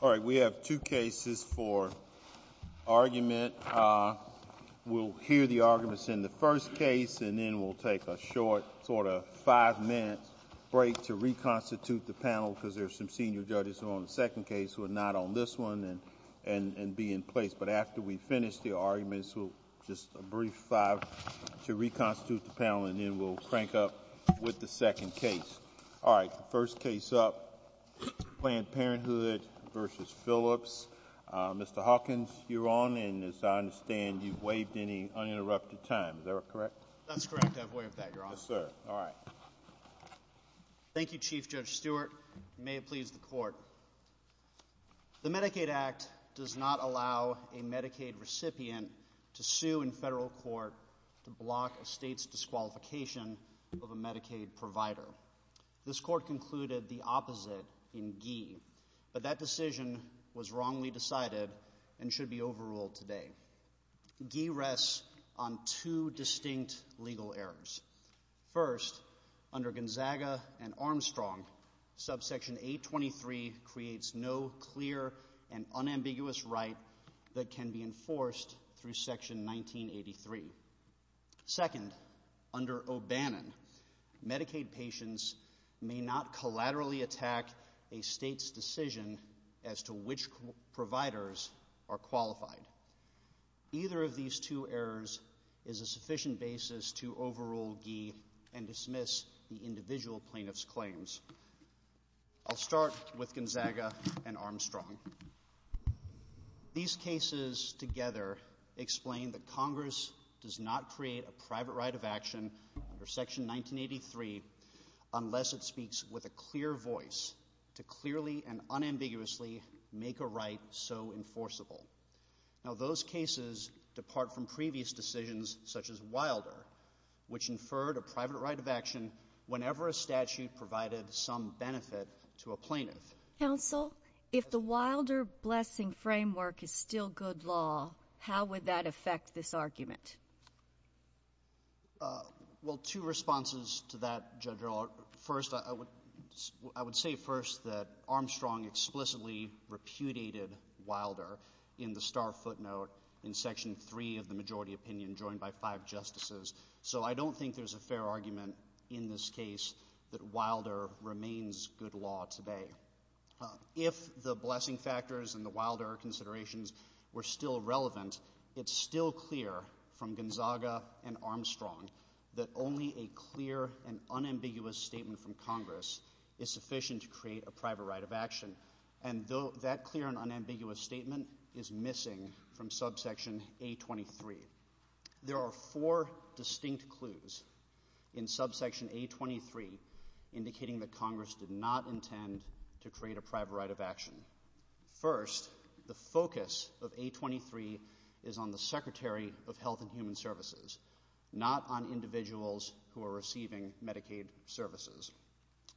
All right, we have two cases for argument. We'll hear the arguments in the first case, and then we'll take a short sort of five-minute break to reconstitute the panel because there are some senior judges who are on the second case who are not on this one and be in place. But after we finish the arguments, just a brief five to reconstitute the panel, and then we'll crank up with the second case. All right. First case up, Planned Parenthood v. Phillips. Mr. Hawkins, you're on, and as I understand, you've waived any uninterrupted time. Is that correct? That's correct. I've waived that. You're on. Yes, sir. All right. Thank you, Chief Judge Stewart. May it please the Court. The Medicaid Act does not allow a Medicaid recipient to sue in federal court to block a state's disqualification of a Medicaid provider. This Court concluded the opposite in Gee, but that decision was wrongly decided and should be overruled today. Gee rests on two distinct legal errors. First, under Gonzaga and Armstrong, subsection 823 creates no clear and unambiguous right that can be enforced through section 1983. Second, under O'Bannon, Medicaid patients may not collaterally attack a state's decision as to which providers are qualified. Either of these two errors is a sufficient basis to overrule Gee and dismiss the individual plaintiff's claims. I'll start with Gonzaga and Armstrong. These cases together explain that Congress does not create a private right of action under section 1983 unless it speaks with a clear voice to clearly and unambiguously make a right so enforceable. Now, those cases depart from previous decisions, such as Wilder, which inferred a private right of action whenever a statute provided some benefit to a plaintiff. Counsel, if the Wilder blessing framework is still good law, how would that affect this argument? Well, two responses to that, Judge Rohlf. First, I would say first that Armstrong explicitly repudiated Wilder in the star footnote in section 3 of the majority opinion joined by five justices, so I don't think there's a If the blessing factors and the Wilder considerations were still relevant, it's still clear from Gonzaga and Armstrong that only a clear and unambiguous statement from Congress is sufficient to create a private right of action, and that clear and unambiguous statement is missing from subsection A23. There are four distinct clues in subsection A23 indicating that Congress did not intend to create a private right of action. First, the focus of A23 is on the Secretary of Health and Human Services, not on individuals who are receiving Medicaid services.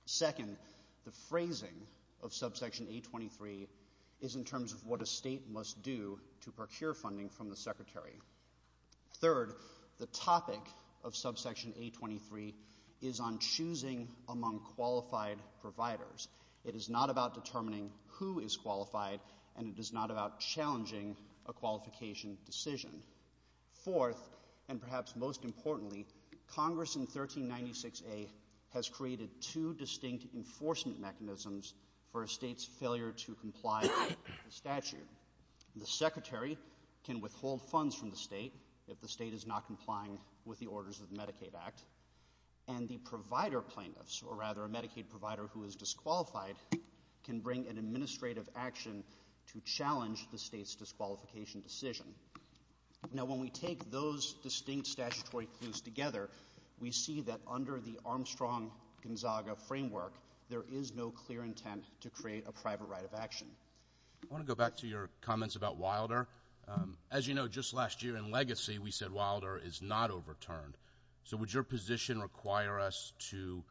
Second, the phrasing of subsection A23 is in terms of what a state must do to procure funding from the Secretary. Third, the topic of subsection A23 is on choosing among qualified providers. It is not about determining who is qualified, and it is not about challenging a qualification decision. Fourth, and perhaps most importantly, Congress in 1396A has created two distinct enforcement mechanisms for a state's failure to comply with the statute. The Secretary can withhold funds from the state if the state is not complying with the orders of the Medicaid Act, and the provider plaintiffs, or rather a Medicaid provider who is disqualified, can bring an administrative action to challenge the state's disqualification decision. Now, when we take those distinct statutory clues together, we see that under the Armstrong-Gonzaga framework, there is no clear intent to create a private right of action. I want to go back to your comments about Wilder. As you know, just last year in Legacy, we said Wilder is not overturned. So would your position require us to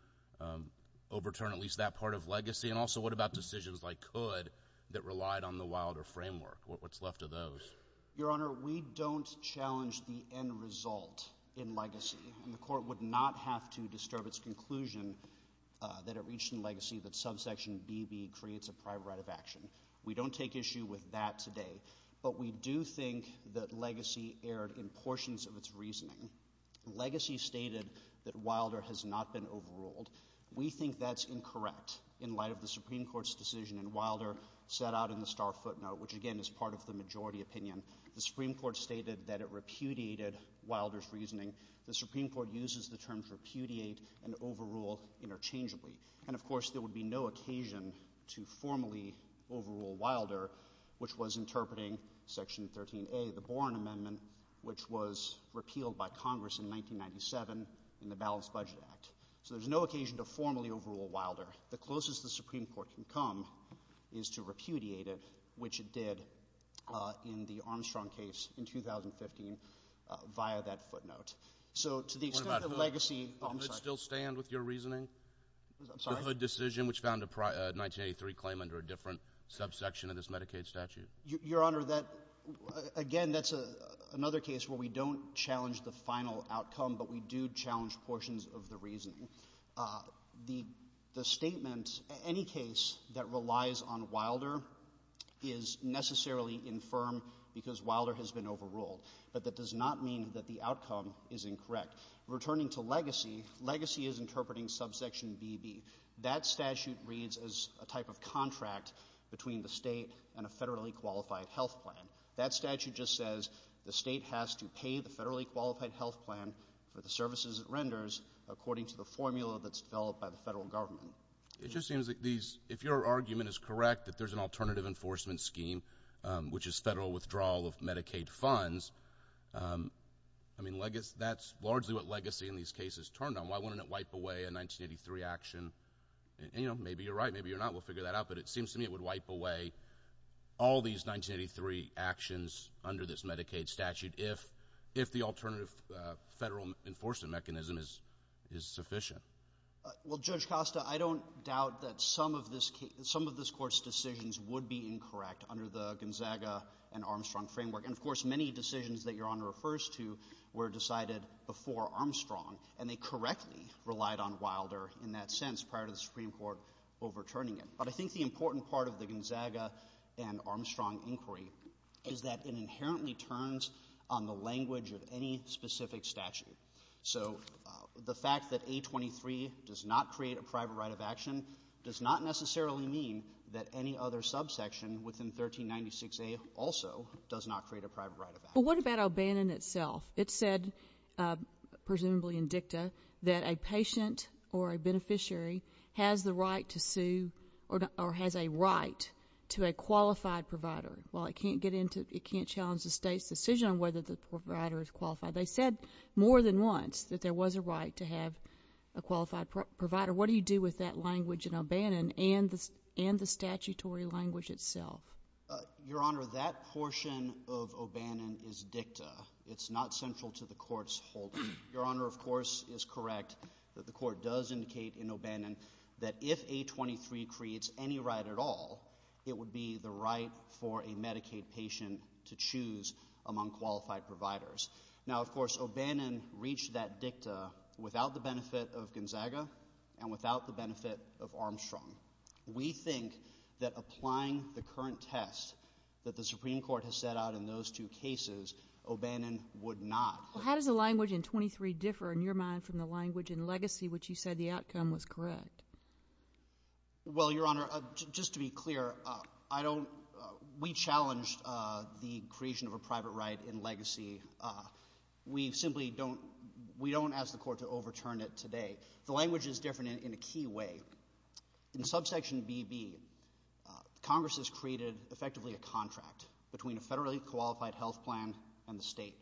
overturn at least that part of Legacy? And also, what about decisions like COD that relied on the Wilder framework? What's left of those? Your Honor, we don't challenge the end result in Legacy, and the Court would not have to disturb its conclusion that it reached in Legacy that subsection BB creates a private right of action. We don't take issue with that today. But we do think that Legacy erred in portions of its reasoning. Legacy stated that Wilder has not been overruled. We think that's incorrect in light of the Supreme Court's decision, and Wilder set out in the star footnote, which, again, is part of the majority opinion. The Supreme Court stated that it repudiated Wilder's reasoning. The Supreme Court uses the terms repudiate and overrule interchangeably. And of course, there would be no occasion to formally overrule Wilder, which was interpreting Section 13A, the Boren Amendment, which was repealed by Congress in 1997 in the Balanced Budget Act. So there's no occasion to formally overrule Wilder. The closest the Supreme Court can come is to repudiate it, which it did in the Armstrong case in 2015 via that footnote. So to the extent that Legacy— What about COD? Oh, I'm sorry. Does that still stand with your reasoning? I'm sorry? The HUD decision, which found a 1983 claim under a different subsection of this Medicaid statute. Your Honor, that—again, that's another case where we don't challenge the final outcome, but we do challenge portions of the reasoning. The statement—any case that relies on Wilder is necessarily infirm because Wilder has been overruled. But that does not mean that the outcome is incorrect. Returning to Legacy, Legacy is interpreting subsection BB. That statute reads as a type of contract between the state and a federally qualified health plan. That statute just says the state has to pay the federally qualified health plan for the services it renders according to the formula that's developed by the federal government. It just seems like these—if your argument is correct that there's an alternative enforcement scheme, which is federal withdrawal of Medicaid funds, I mean, that's largely what Legacy in these cases turned on. Why wouldn't it wipe away a 1983 action? And, you know, maybe you're right. Maybe you're not. We'll figure that out. But it seems to me it would wipe away all these 1983 actions under this Medicaid statute if the alternative federal enforcement mechanism is sufficient. Well, Judge Costa, I don't doubt that some of this case—some of this Court's decisions would be incorrect under the Gonzaga and Armstrong framework. And, of course, many decisions that Your Honor refers to were decided before Armstrong, and they correctly relied on Wilder in that sense prior to the Supreme Court overturning it. But I think the important part of the Gonzaga and Armstrong inquiry is that it inherently turns on the language of any specific statute. So the fact that A23 does not create a private right of action does not necessarily mean that any other subsection within 1396A also does not create a private right of action. But what about O'Bannon itself? It said, presumably in dicta, that a patient or a beneficiary has the right to sue or has a right to a qualified provider. Well, it can't get into—it can't challenge the State's decision on whether the provider is qualified. They said more than once that there was a right to have a qualified provider. What do you do with that language in O'Bannon and the statutory language itself? Your Honor, that portion of O'Bannon is dicta. It's not central to the Court's holding. Your Honor, of course, is correct that the Court does indicate in O'Bannon that if A23 creates any right at all, it would be the right for a Medicaid patient to choose among qualified providers. Now, of course, O'Bannon reached that dicta without the benefit of Gonzaga and without the benefit of Armstrong. We think that applying the current test that the Supreme Court has set out in those two cases, O'Bannon would not. Well, how does the language in 23 differ, in your mind, from the language in Legacy which you said the outcome was correct? Well, Your Honor, just to be clear, I don't—we challenged the creation of a private right in Legacy. We simply don't—we don't ask the Court to overturn it today. The language is different in a key way. In subsection BB, Congress has created effectively a contract between a federally qualified health plan and the state.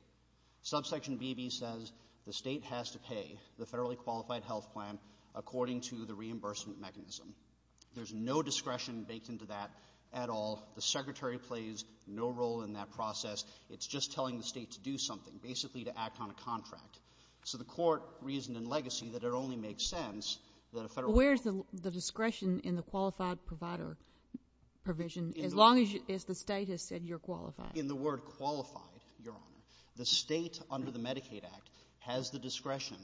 Subsection BB says the state has to pay the federally qualified health plan according to the reimbursement mechanism. There's no discretion baked into that at all. The Secretary plays no role in that process. It's just telling the state to do something, basically to act on a contract. So the Court reasoned in Legacy that it only makes sense that a federal— Where is the discretion in the qualified provider provision as long as the state has said you're qualified? In the word qualified, Your Honor, the state under the Medicaid Act has the discretion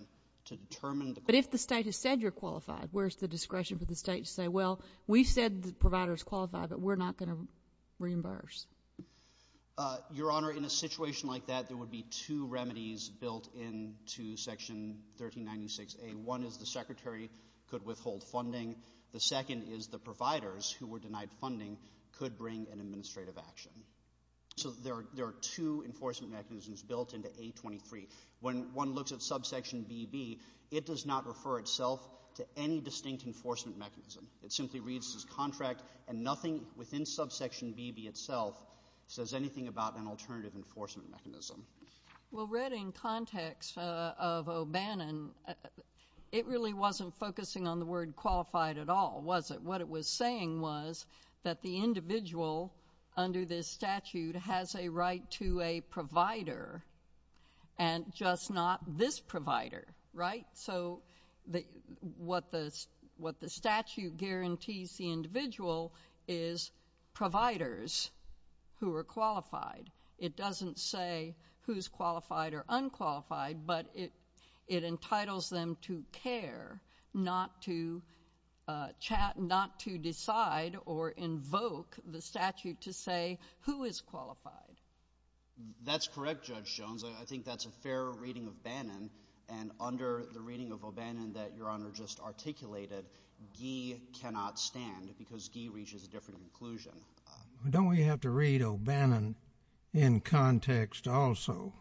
to determine the— But if the state has said you're qualified, where is the discretion for the state to say, well, we've said the provider is qualified, but we're not going to reimburse? Your Honor, in a situation like that, there would be two remedies built into Section 1396A. One is the Secretary could withhold funding. The second is the providers who were denied funding could bring an administrative action. So there are two enforcement mechanisms built into A23. When one looks at subsection BB, it does not refer itself to any distinct enforcement mechanism. It simply reads as contract and nothing within subsection BB itself says anything about an alternative enforcement mechanism. Well read in context of O'Bannon, it really wasn't focusing on the word qualified at all, was it? What it was saying was that the individual under this statute has a right to a provider and just not this provider, right? So what the statute guarantees the individual is providers who are qualified. It doesn't say who's qualified or unqualified, but it entitles them to care, not to decide or invoke the statute to say who is qualified. That's correct, Judge Jones. And under the reading of O'Bannon that Your Honor just articulated, Ghee cannot stand because Ghee reaches a different conclusion. Don't we have to read O'Bannon in context also?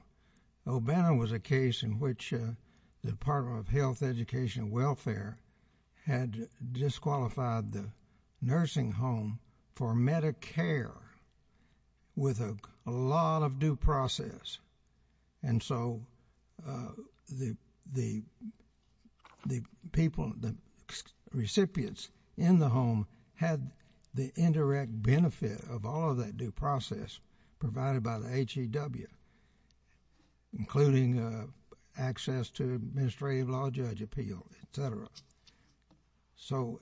O'Bannon was a case in which the Department of Health, Education, and Welfare had disqualified the nursing home for Medicare with a lot of due process. And so the people, the recipients in the home had the indirect benefit of all of that due process provided by the HEW, including access to administrative law judge appeal, et cetera. So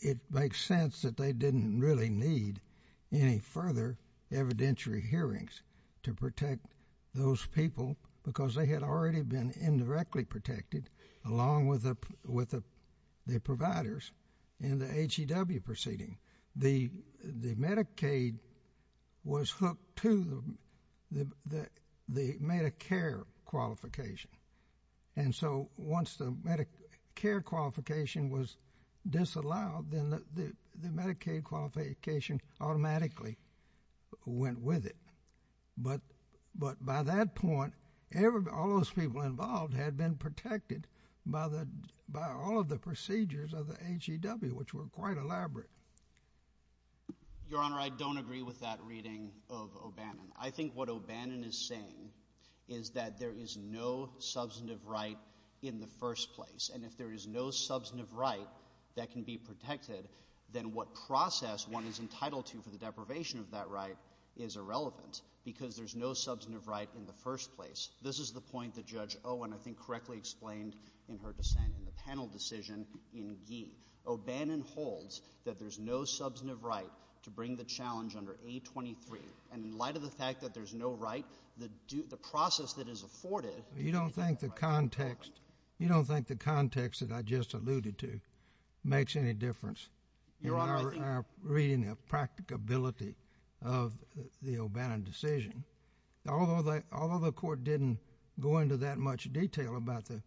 it makes sense that they didn't really need any further evidentiary hearings to protect those people because they had already been indirectly protected along with the providers in the HEW proceeding. The Medicaid was hooked to the Medicare qualification. And so once the Medicare qualification was disallowed, then the Medicaid qualification automatically went with it. But by that point, all those people involved had been protected by all of the procedures of the HEW, which were quite elaborate. Your Honor, I don't agree with that reading of O'Bannon. I think what O'Bannon is saying is that there is no substantive right in the first place. And if there is no substantive right that can be protected, then what process one is entitled to for the deprivation of that right is irrelevant because there's no substantive right in the first place. This is the point that Judge Owen, I think, correctly explained in her dissent in the panel decision in Gee. O'Bannon holds that there's no substantive right to bring the challenge under A23. And in light of the fact that there's no right, the process that is afforded— You don't think the context—you don't think the context that I just alluded to makes any difference in our reading of practicability of the O'Bannon decision? Although the Court didn't go into that much detail about the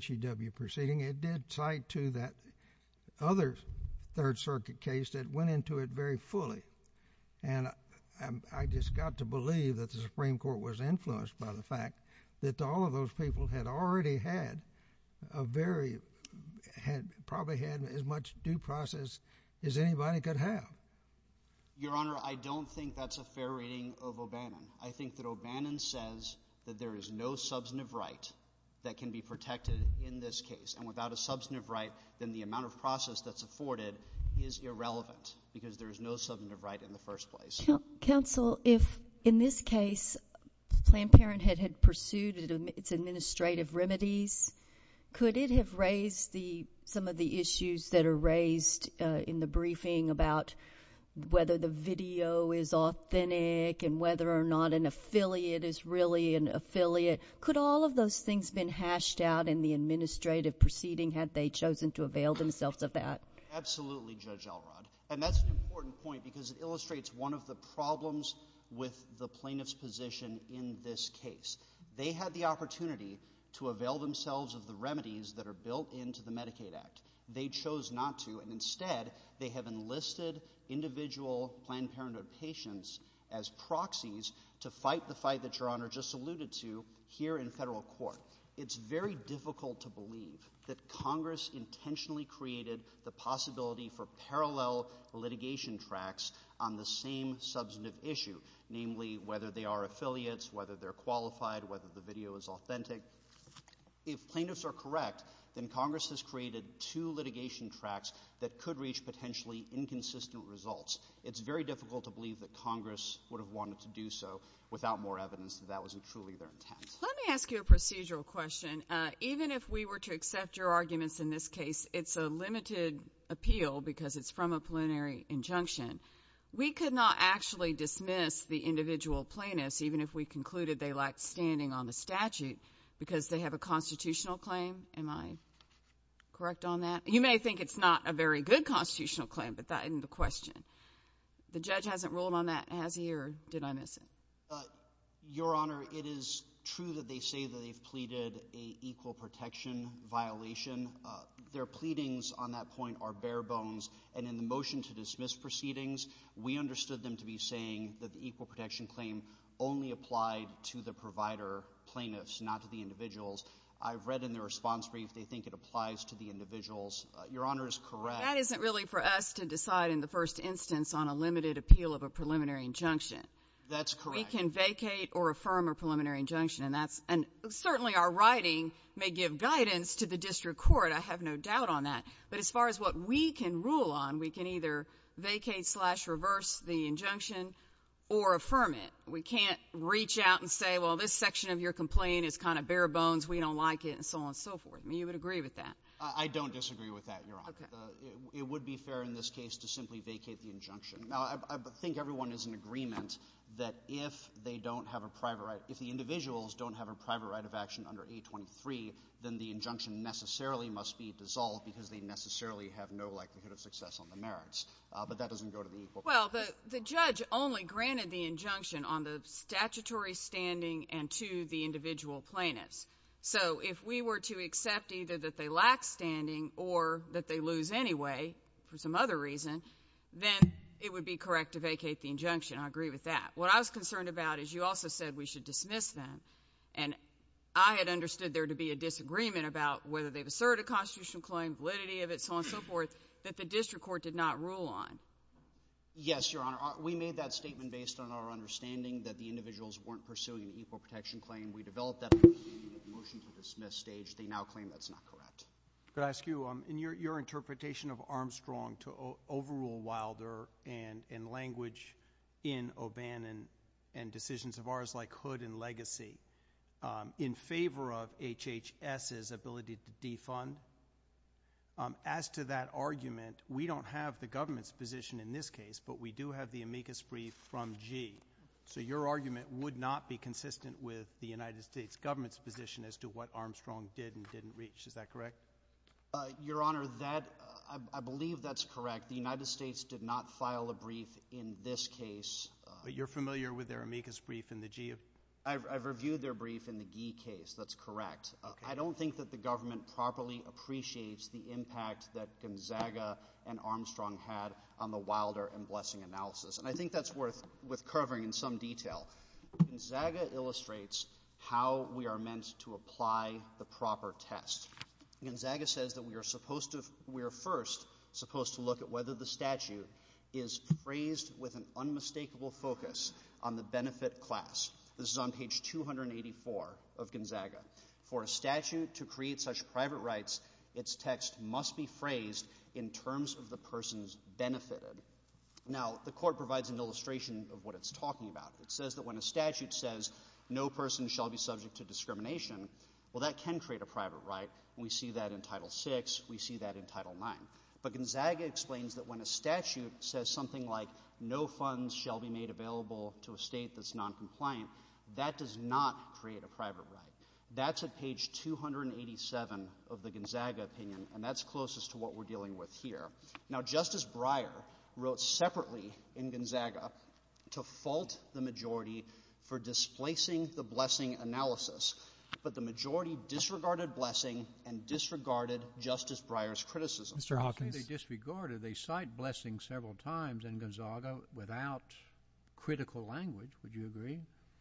HEW proceeding, it did cite to that other Third Circuit case that went into it very fully. And I just got to believe that the Supreme Court was influenced by the fact that all of those people had already had a very—had probably had as much due process as anybody could have. Your Honor, I don't think that's a fair reading of O'Bannon. I think that O'Bannon says that there is no substantive right that can be protected in this case. And without a substantive right, then the amount of process that's afforded is irrelevant because there is no substantive right in the first place. Counsel, if, in this case, Planned Parenthood had pursued its administrative remedies, could it have raised some of the issues that are raised in the briefing about whether the video is authentic and whether or not an affiliate is really an affiliate? Could all of those things have been hashed out in the administrative proceeding had they chosen to avail themselves of that? Absolutely, Judge Elrod. And that's an important point because it illustrates one of the problems with the plaintiff's position in this case. They had the opportunity to avail themselves of the remedies that are built into the Medicaid Act. They chose not to. And instead, they have enlisted individual Planned Parenthood patients as proxies to fight the fight that Your Honor just alluded to here in federal court. It's very difficult to believe that Congress intentionally created the possibility for parallel litigation tracts on the same substantive issue, namely, whether they are affiliates, whether they're qualified, whether the video is authentic. If plaintiffs are correct, then Congress has created two litigation tracts that could reach potentially inconsistent results. It's very difficult to believe that Congress would have wanted to do so without more evidence that that wasn't truly their intent. Let me ask you a procedural question. Even if we were to accept your arguments in this case, it's a limited appeal because it's from a plenary injunction. We could not actually dismiss the individual plaintiffs, even if we concluded they lacked standing on the statute, because they have a constitutional claim. Am I correct on that? You may think it's not a very good constitutional claim, but that isn't the question. The judge hasn't ruled on that, has he, or did I miss it? Your Honor, it is true that they say that they've pleaded an equal protection violation. Their pleadings on that point are bare bones, and in the motion to dismiss proceedings, we understood them to be saying that the equal protection claim only applied to the provider plaintiffs, not to the individuals. I've read in the response brief they think it applies to the individuals. Your Honor is correct. That isn't really for us to decide in the first instance on a limited appeal of a preliminary injunction. That's correct. We can vacate or affirm a preliminary injunction, and certainly our writing may give guidance to the district court, I have no doubt on that. But as far as what we can rule on, we can either vacate slash reverse the injunction or affirm it. We can't reach out and say, well, this section of your complaint is kind of bare bones, we don't like it, and so on and so forth. You would agree with that? I don't disagree with that, Your Honor. It would be fair in this case to simply vacate the injunction. Now, I think everyone is in agreement that if they don't have a private right, if the individuals don't have a private right of action under 823, then the injunction necessarily must be dissolved because they necessarily have no likelihood of success on the merits. But that doesn't go to the equal protection. Well, the judge only granted the injunction on the statutory standing and to the individual plaintiffs. So if we were to accept either that they lack standing or that they lose anyway for some other reason, then it would be correct to vacate the injunction. I agree with that. What I was concerned about is you also said we should dismiss them. And I had understood there to be a disagreement about whether they've asserted a constitutional claim, validity of it, so on and so forth, that the district court did not rule on. Yes, Your Honor. We made that statement based on our understanding that the individuals weren't pursuing an equal protection claim. We developed that under the motion for dismiss stage. They now claim that's not correct. Could I ask you, in your interpretation of Armstrong to overrule Wilder and language in O'Bannon and decisions of ours like Hood and Legacy in favor of HHS's ability to defund, as to that argument, we don't have the government's position in this case, but we do have the amicus brief from Gee. So your argument would not be consistent with the United States government's position as to what Armstrong did and didn't reach. Is that correct? Your Honor, I believe that's correct. The United States did not file a brief in this case. But you're familiar with their amicus brief in the Gee? I've reviewed their brief in the Gee case. That's correct. I don't think that the government properly appreciates the impact that Gonzaga and Armstrong had on the Wilder and Blessing analysis. And I think that's worth covering in some detail. Gonzaga illustrates how we are meant to apply the proper test. Gonzaga says that we are first supposed to look at whether the statute is phrased with an unmistakable focus on the benefit class. This is on page 284 of Gonzaga. For a statute to create such private rights, its text must be phrased in terms of the persons benefited. Now, the court provides an illustration of what it's talking about. It says that when a statute says no person shall be subject to discrimination, well, that can create a private right. And we see that in Title VI. We see that in Title IX. But Gonzaga explains that when a statute says something like no funds shall be made available to a state that's noncompliant, that does not create a private right. That's at page 287 of the Gonzaga opinion. And that's closest to what we're dealing with here. Now, Justice Breyer wrote separately in Gonzaga to fault the majority for displacing the Blessing analysis. But the majority disregarded Blessing and disregarded Justice Breyer's criticism. Mr. Hawkins. They disregarded. They cite Blessing several times in Gonzaga without critical language. Would you agree?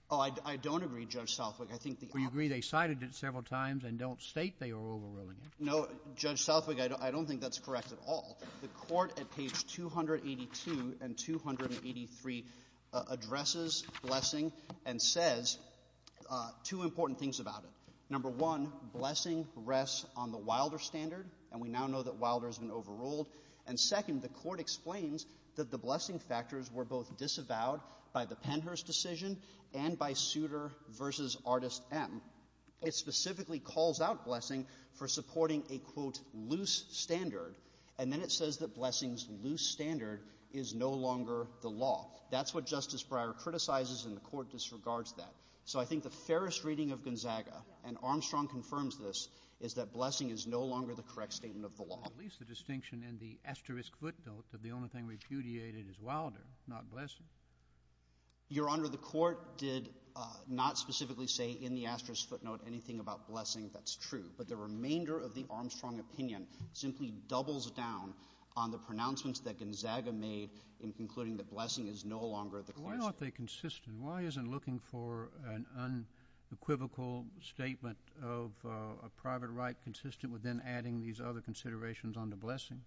Oh, I don't agree, Judge Southwick. I think the opposite. You agree they cited it several times and don't state they are overruling it? No. Judge Southwick, I don't think that's correct at all. The Court at page 282 and 283 addresses Blessing and says two important things about it. Number one, Blessing rests on the Wilder standard. And we now know that Wilder has been overruled. And second, the Court explains that the Blessing factors were both disavowed by the Penhurst decision and by Souter v. Artist M. It specifically calls out Blessing for supporting a, quote, loose standard. And then it says that Blessing's loose standard is no longer the law. That's what Justice Breyer criticizes and the Court disregards that. So I think the fairest reading of Gonzaga, and Armstrong confirms this, is that Blessing is no longer the correct statement of the law. At least the distinction in the asterisk footnote that the only thing repudiated is Wilder, not Blessing. Your Honor, the Court did not specifically say in the asterisk footnote anything about Blessing. That's true. But the remainder of the Armstrong opinion simply doubles down on the pronouncements that Gonzaga made in concluding that Blessing is no longer the correct statement. Why aren't they consistent? Why isn't looking for an unequivocal statement of a private right consistent with then adding these other considerations onto Blessing?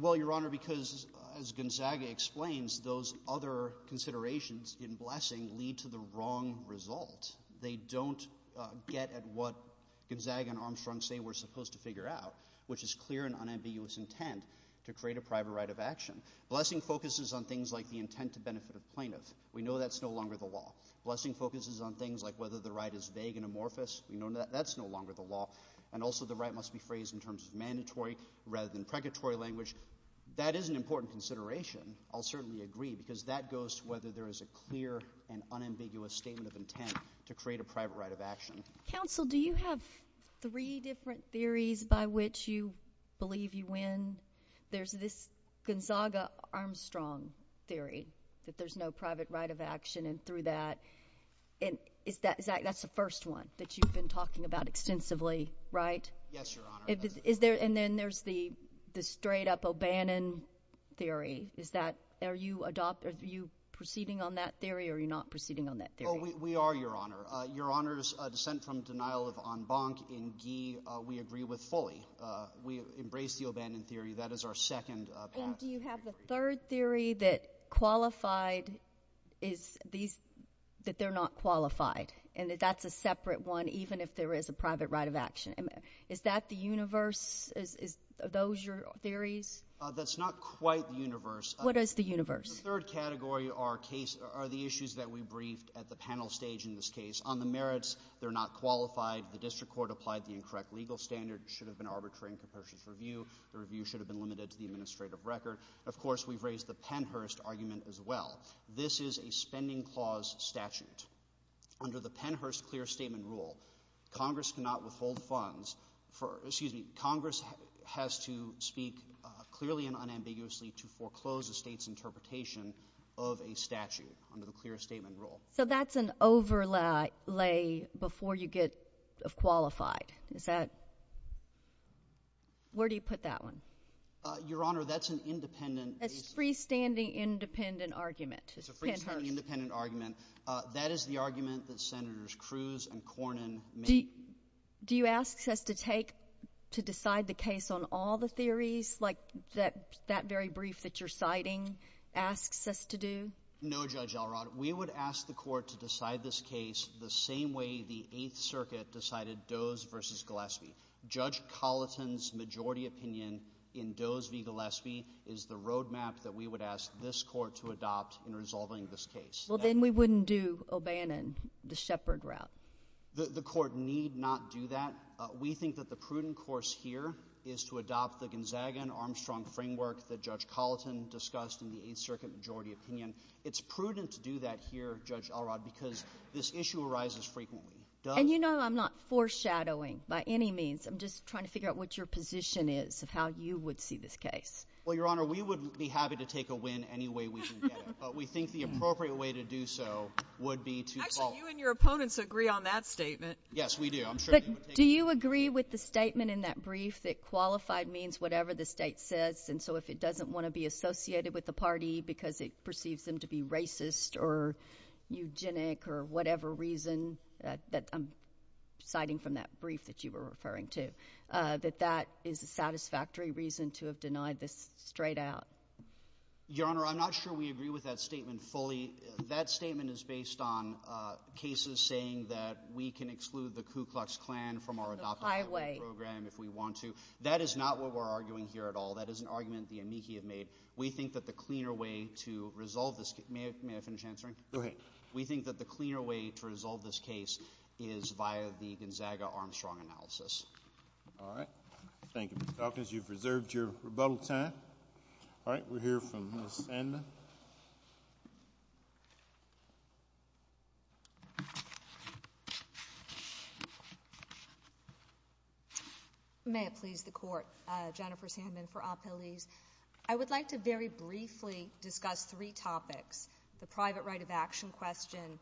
Well, Your Honor, because as Gonzaga explains, those other considerations in Blessing lead to the wrong result. They don't get at what Gonzaga and Armstrong say we're supposed to figure out, which is clear and unambiguous intent to create a private right of action. Blessing focuses on things like the intent to benefit a plaintiff. We know that's no longer the law. Blessing focuses on things like whether the right is vague and amorphous. We know that that's no longer the law. And also the right must be phrased in terms of mandatory rather than pregatory language. That is an important consideration. I'll certainly agree because that goes to whether there is a clear and unambiguous statement of intent to create a private right of action. Counsel, do you have three different theories by which you believe you win? There's this Gonzaga-Armstrong theory that there's no private right of action, and through that, that's the first one that you've been talking about extensively, right? Yes, Your Honor. And then there's the straight-up O'Bannon theory. Are you proceeding on that theory or are you not proceeding on that theory? We are, Your Honor. Your Honor's dissent from denial of en banc in Guy we agree with fully. We embrace the O'Bannon theory. That is our second path. And do you have the third theory that qualified is that they're not qualified, and that that's a separate one even if there is a private right of action? Is that the universe? Are those your theories? That's not quite the universe. What is the universe? The third category are the issues that we briefed at the panel stage in this case. On the merits, they're not qualified. The district court applied the incorrect legal standard. It should have been arbitrary and capacious review. The review should have been limited to the administrative record. Of course, we've raised the Pennhurst argument as well. This is a spending clause statute. Under the Pennhurst clear statement rule, Congress cannot withhold funds for ‑‑ excuse me, Congress has to speak clearly and unambiguously to foreclose a state's interpretation of a statute under the clear statement rule. So that's an overlay before you get qualified. Is that ‑‑ where do you put that one? Your Honor, that's an independent ‑‑ That's a freestanding independent argument. It's a freestanding independent argument. That is the argument that Senators Cruz and Cornyn made. Do you ask us to take, to decide the case on all the theories, like that very brief that you're citing asks us to do? No, Judge Elrod. We would ask the court to decide this case the same way the Eighth Circuit decided Doe's v. Gillespie. Judge Colleton's majority opinion in Doe's v. Gillespie is the roadmap that we would ask this court to adopt in resolving this case. Well, then we wouldn't do O'Bannon, the Shepard route. The court need not do that. We think that the prudent course here is to adopt the Gonzaga and Armstrong framework that Judge Colleton discussed in the Eighth Circuit majority opinion. It's prudent to do that here, Judge Elrod, because this issue arises frequently. And you know I'm not foreshadowing by any means. I'm just trying to figure out what your position is of how you would see this case. Well, Your Honor, we would be happy to take a win any way we can get it. But we think the appropriate way to do so would be to fall. Actually, you and your opponents agree on that statement. Yes, we do. I'm sure they would take it. But do you agree with the statement in that brief that qualified means whatever the state says, and so if it doesn't want to be associated with the party because it perceives them to be racist or eugenic or whatever reason that I'm citing from that brief that you were referring to, that that is a satisfactory reason to have denied this straight out? Your Honor, I'm not sure we agree with that statement fully. That statement is based on cases saying that we can exclude the Ku Klux Klan from our adopted program if we want to. That is not what we're arguing here at all. That is an argument the amici have made. We think that the cleaner way to resolve this case—may I finish answering? Go ahead. We think that the cleaner way to resolve this case is via the Gonzaga-Armstrong analysis. All right. Thank you, Mr. Caucas. You've reserved your rebuttal time. All right. We'll hear from Ms. Andan. May it please the Court. Jennifer Sandman for Apeliz. I would like to very briefly discuss three topics, the private right of action question,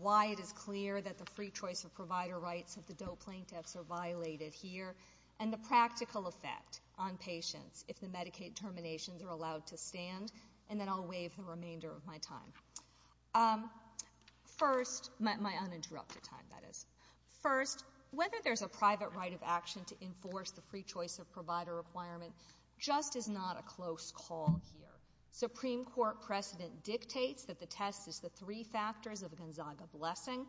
why it is clear that the free choice of provider rights of the DOE plaintiffs are violated here, and the practical effect on patients if the Medicaid terminations are allowed to stand, and then I'll waive the remainder of my time—my uninterrupted time, that is. First, whether there's a private right of action to enforce the free choice of provider requirement just is not a close call here. Supreme Court precedent dictates that the test is the three factors of a Gonzaga blessing.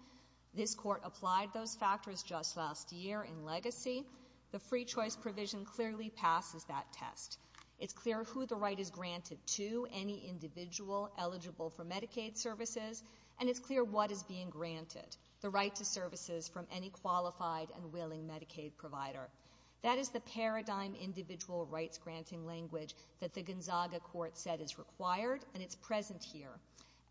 This Court applied those factors just last year in legacy. The free choice provision clearly passes that test. It's clear who the right is granted to, any individual eligible for Medicaid services, and it's clear what is being granted, the right to services from any qualified and willing Medicaid provider. That is the paradigm individual rights-granting language that the Gonzaga Court said is required, and it's present here.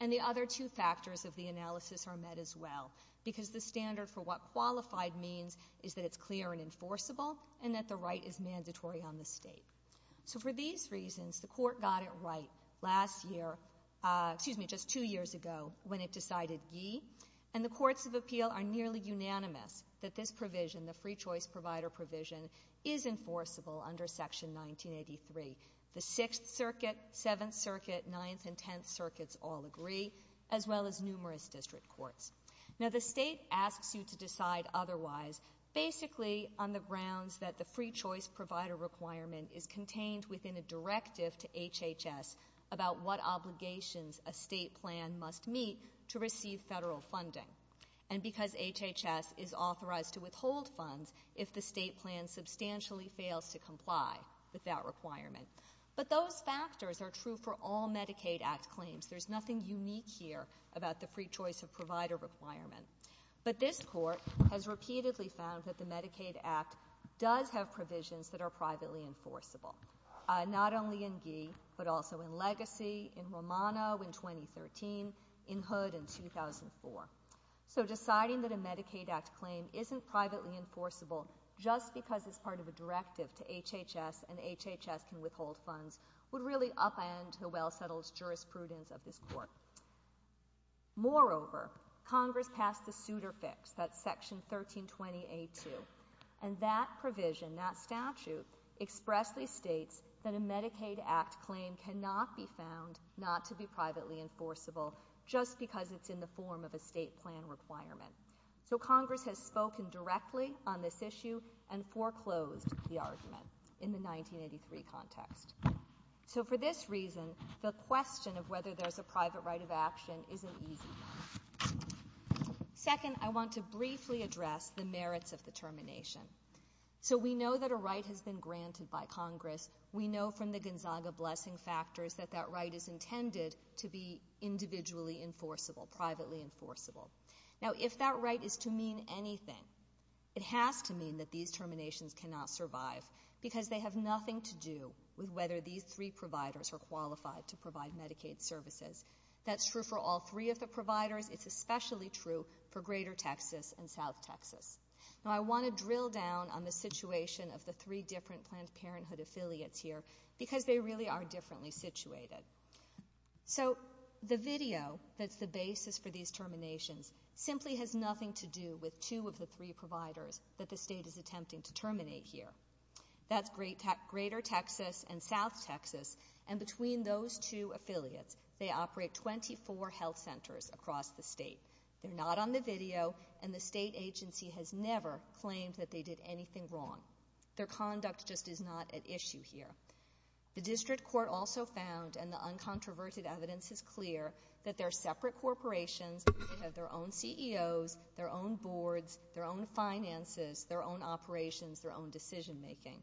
And the other two factors of the analysis are met as well, because the standard for what qualified means is that it's clear and enforceable and that the right is mandatory on the state. So for these reasons, the Court got it right last year—excuse me, just two years ago when it decided yee, and the courts of appeal are nearly unanimous that this provision, the free choice provider provision, is enforceable under Section 1983. The Sixth Circuit, Seventh Circuit, Ninth and Tenth Circuits all agree, as well as numerous district courts. Now, the state asks you to decide otherwise basically on the grounds that the free choice provider requirement is contained within a directive to HHS about what obligations a state plan must meet to receive federal funding, and because HHS is authorized to withhold funds if the state plan substantially fails to comply with that requirement. But those factors are true for all Medicaid Act claims. There's nothing unique here about the free choice provider requirement. But this Court has repeatedly found that the Medicaid Act does have provisions that are privately enforceable, not only in yee, but also in legacy, in Romano in 2013, in Hood in 2004. So deciding that a Medicaid Act claim isn't privately enforceable just because it's part of a directive to HHS and HHS can withhold funds would really upend the well-settled jurisprudence of this Court. Moreover, Congress passed the suitor fix, that's Section 1320A2, and that provision, that statute expressly states that a Medicaid Act claim cannot be found not to be privately enforceable just because it's in the form of a state plan requirement. So Congress has spoken directly on this issue and foreclosed the argument in the 1983 context. So for this reason, the question of whether there's a private right of action is an easy one. Second, I want to briefly address the merits of the termination. So we know that a right has been granted by Congress. We know from the Gonzaga Blessing Factors that that right is intended to be individually enforceable, privately enforceable. Now, if that right is to mean anything, it has to mean that these terminations cannot survive because they have nothing to do with whether these three providers are qualified to provide Medicaid services. That's true for all three of the providers. It's especially true for Greater Texas and South Texas. Now, I want to drill down on the situation of the three different Planned Parenthood affiliates here because they really are differently situated. So the video that's the basis for these terminations simply has nothing to do with two of the three providers that the state is attempting to terminate here. That's Greater Texas and South Texas, and between those two affiliates, they operate 24 health centers across the state. They're not on the video, and the state agency has never claimed that they did anything wrong. Their conduct just is not at issue here. The district court also found, and the uncontroverted evidence is clear, that they're separate corporations. They have their own CEOs, their own boards, their own finances, their own operations, their own decision-making,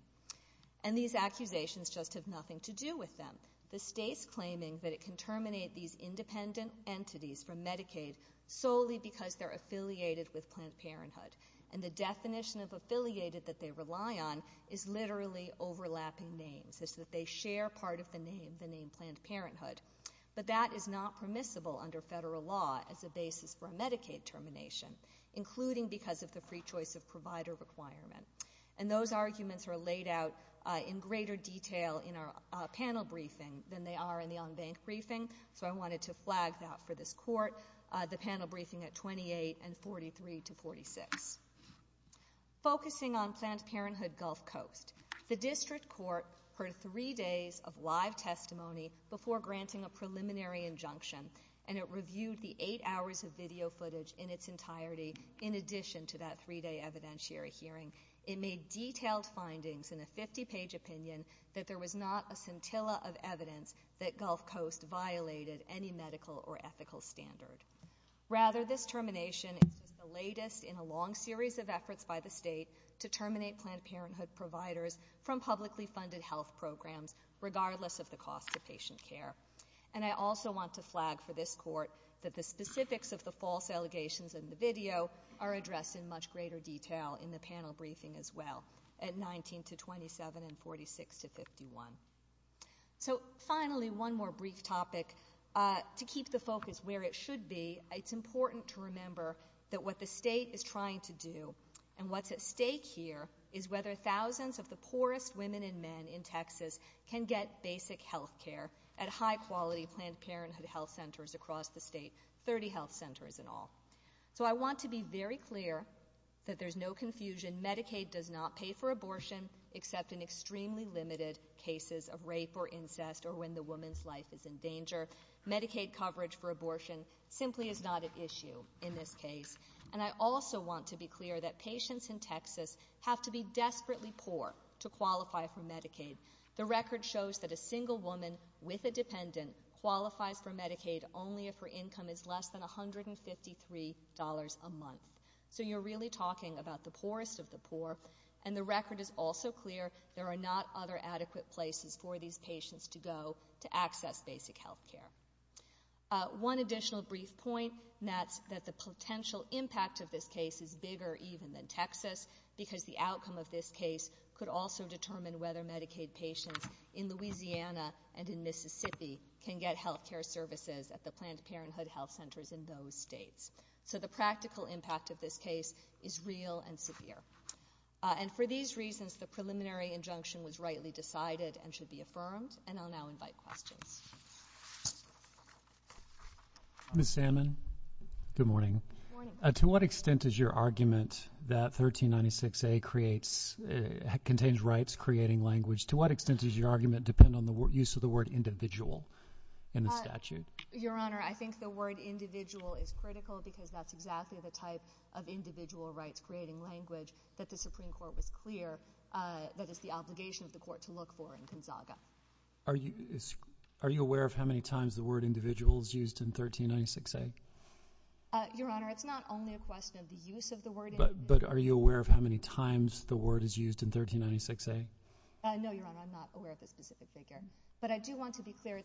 and these accusations just have nothing to do with them. The state's claiming that it can terminate these independent entities from Medicaid solely because they're affiliated with Planned Parenthood, and the definition of affiliated that they rely on is literally overlapping names. It's that they share part of the name, the name Planned Parenthood, but that is not permissible under federal law as a basis for a Medicaid termination, including because of the free choice of provider requirement, and those arguments are laid out in greater detail in our panel briefing than they are in the on-bank briefing, so I wanted to flag that for this court, the panel briefing at 28 and 43 to 46. Focusing on Planned Parenthood Gulf Coast, the district court heard three days of live testimony before granting a preliminary injunction, and it reviewed the eight hours of video footage in its entirety in addition to that three-day evidentiary hearing. It made detailed findings in a 50-page opinion that there was not a scintilla of evidence that Gulf Coast violated any medical or ethical standard. Rather, this termination is the latest in a long series of efforts by the state to terminate Planned Parenthood providers from publicly funded health programs, regardless of the cost to patient care, and I also want to flag for this court that the specifics of the false allegations in the video are addressed in much greater detail in the panel briefing as well at 19 to 27 and 46 to 51. So, finally, one more brief topic. To keep the focus where it should be, it's important to remember that what the state is trying to do and what's at stake here is whether thousands of the poorest women and men in Texas can get basic health care at high-quality Planned Parenthood health centers across the state, 30 health centers in all. So I want to be very clear that there's no confusion. Medicaid does not pay for abortion except in extremely limited cases of rape or incest or when the woman's life is in danger. Medicaid coverage for abortion simply is not an issue in this case, and I also want to be clear that patients in Texas have to be desperately poor to qualify for Medicaid. The record shows that a single woman with a dependent qualifies for Medicaid only if her income is less than $153 a month. So you're really talking about the poorest of the poor, and the record is also clear there are not other adequate places for these patients to go to access basic health care. One additional brief point, that the potential impact of this case is bigger even than Texas because the outcome of this case could also determine whether Medicaid patients in Louisiana and in Mississippi can get health care services at the Planned Parenthood health centers in those states. So the practical impact of this case is real and severe. And for these reasons, the preliminary injunction was rightly decided and should be affirmed, and I'll now invite questions. Ms. Salmon, good morning. To what extent does your argument that 1396A contains rights-creating language, to what extent does your argument depend on the use of the word individual in the statute? Your Honor, I think the word individual is critical because that's exactly the type of individual rights-creating language that the Supreme Court was clear that is the obligation of the Court to look for in Kinsaga. Are you aware of how many times the word individual is used in 1396A? Your Honor, it's not only a question of the use of the word individual. But are you aware of how many times the word is used in 1396A? No, Your Honor, I'm not aware of a specific figure. But I do want to be clear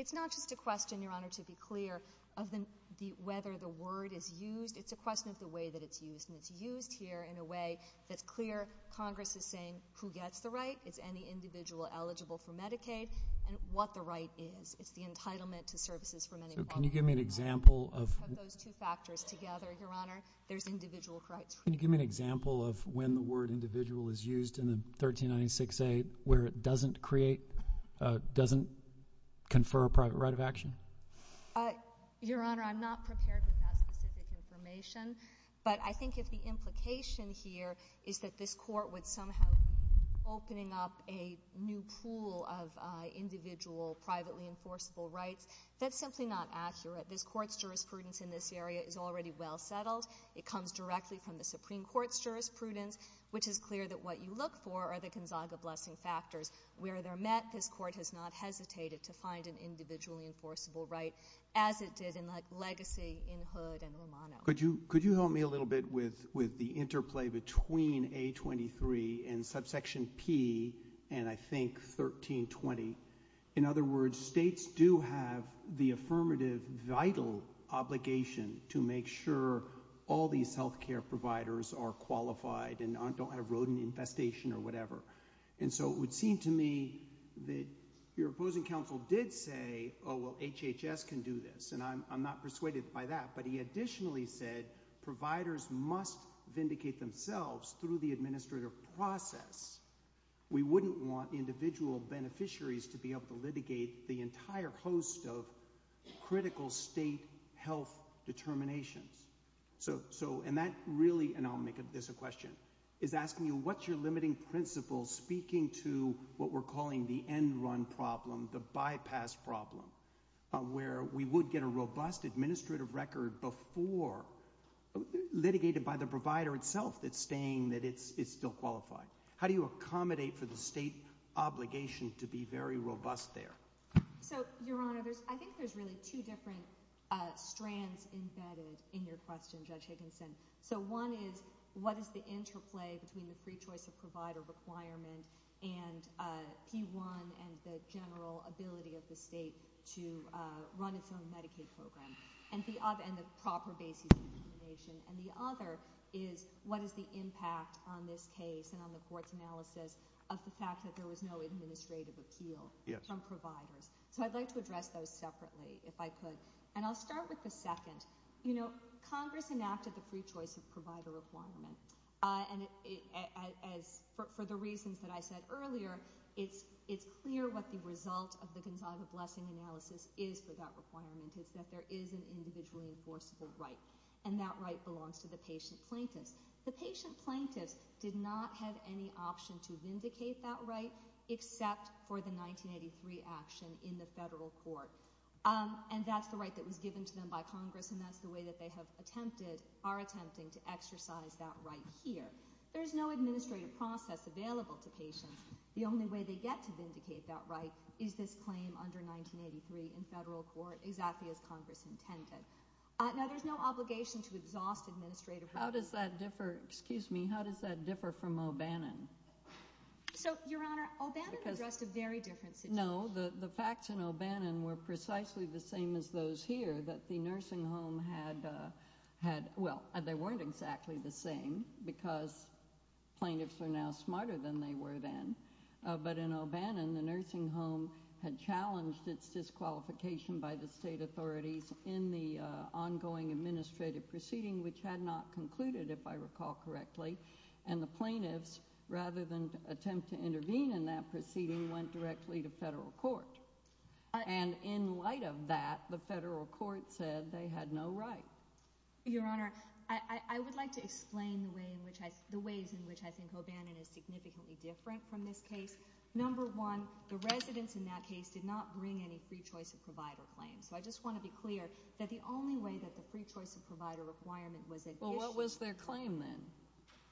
it's not just a question, Your Honor, to be clear, of whether the word is used. It's a question of the way that it's used, and it's used here in a way that's clear. Congress is saying who gets the right, is any individual eligible for Medicaid, and what the right is. It's the entitlement to services for many people. So can you give me an example of those two factors together, Your Honor? There's individual rights. Can you give me an example of when the word individual is used in 1396A where it doesn't create, doesn't confer a private right of action? Your Honor, I'm not prepared with that specific information. But I think if the implication here is that this Court would somehow be opening up a new pool of individual privately enforceable rights, that's simply not accurate. This Court's jurisprudence in this area is already well settled. It comes directly from the Supreme Court's jurisprudence, which is clear that what you look for are the Gonzaga Blessing factors. Where they're met, this Court has not hesitated to find an individually enforceable right, as it did in Legacy, in Hood, and Romano. Could you help me a little bit with the interplay between A23 and subsection P, and I think 1320? In other words, states do have the affirmative vital obligation to make sure all these health care providers are qualified and don't have rodent infestation or whatever. And so it would seem to me that your opposing counsel did say, oh, well, HHS can do this. And I'm not persuaded by that. But he additionally said providers must vindicate themselves through the administrative process. We wouldn't want individual beneficiaries to be able to litigate the entire host of critical state health determinations. And that really – and I'll make this a question – is asking you what's your limiting principle speaking to what we're calling the end-run problem, the bypass problem, where we would get a robust administrative record before – litigated by the provider itself that's saying that it's still qualified. How do you accommodate for the state obligation to be very robust there? So, Your Honor, I think there's really two different strands embedded in your question, Judge Higginson. So one is what is the interplay between the pre-choice of provider requirement and P1 and the general ability of the state to run its own Medicaid program and the proper basis of determination? And the other is what is the impact on this case and on the court's analysis of the fact that there was no administrative appeal from providers? So I'd like to address those separately, if I could. And I'll start with the second. You know, Congress enacted the pre-choice of provider requirement. And for the reasons that I said earlier, it's clear what the result of the Gonzaga Blessing analysis is for that requirement, which is that there is an individual enforceable right, and that right belongs to the patient plaintiffs. The patient plaintiffs did not have any option to vindicate that right except for the 1983 action in the federal court. And that's the right that was given to them by Congress, and that's the way that they have attempted – are attempting to exercise that right here. There is no administrative process available to patients. The only way they get to vindicate that right is this claim under 1983 in federal court, exactly as Congress intended. Now, there's no obligation to exhaust administrative – How does that differ – excuse me – how does that differ from O'Bannon? So, Your Honor, O'Bannon addressed a very different situation. No, the facts in O'Bannon were precisely the same as those here, that the nursing home had – well, they weren't exactly the same because plaintiffs are now smarter than they were then. But in O'Bannon, the nursing home had challenged its disqualification by the state authorities in the ongoing administrative proceeding, which had not concluded, if I recall correctly. And the plaintiffs, rather than attempt to intervene in that proceeding, went directly to federal court. And in light of that, the federal court said they had no right. Your Honor, I would like to explain the ways in which I think O'Bannon is significantly different from this case. Number one, the residents in that case did not bring any free choice of provider claims. So I just want to be clear that the only way that the free choice of provider requirement was – Well, what was their claim then?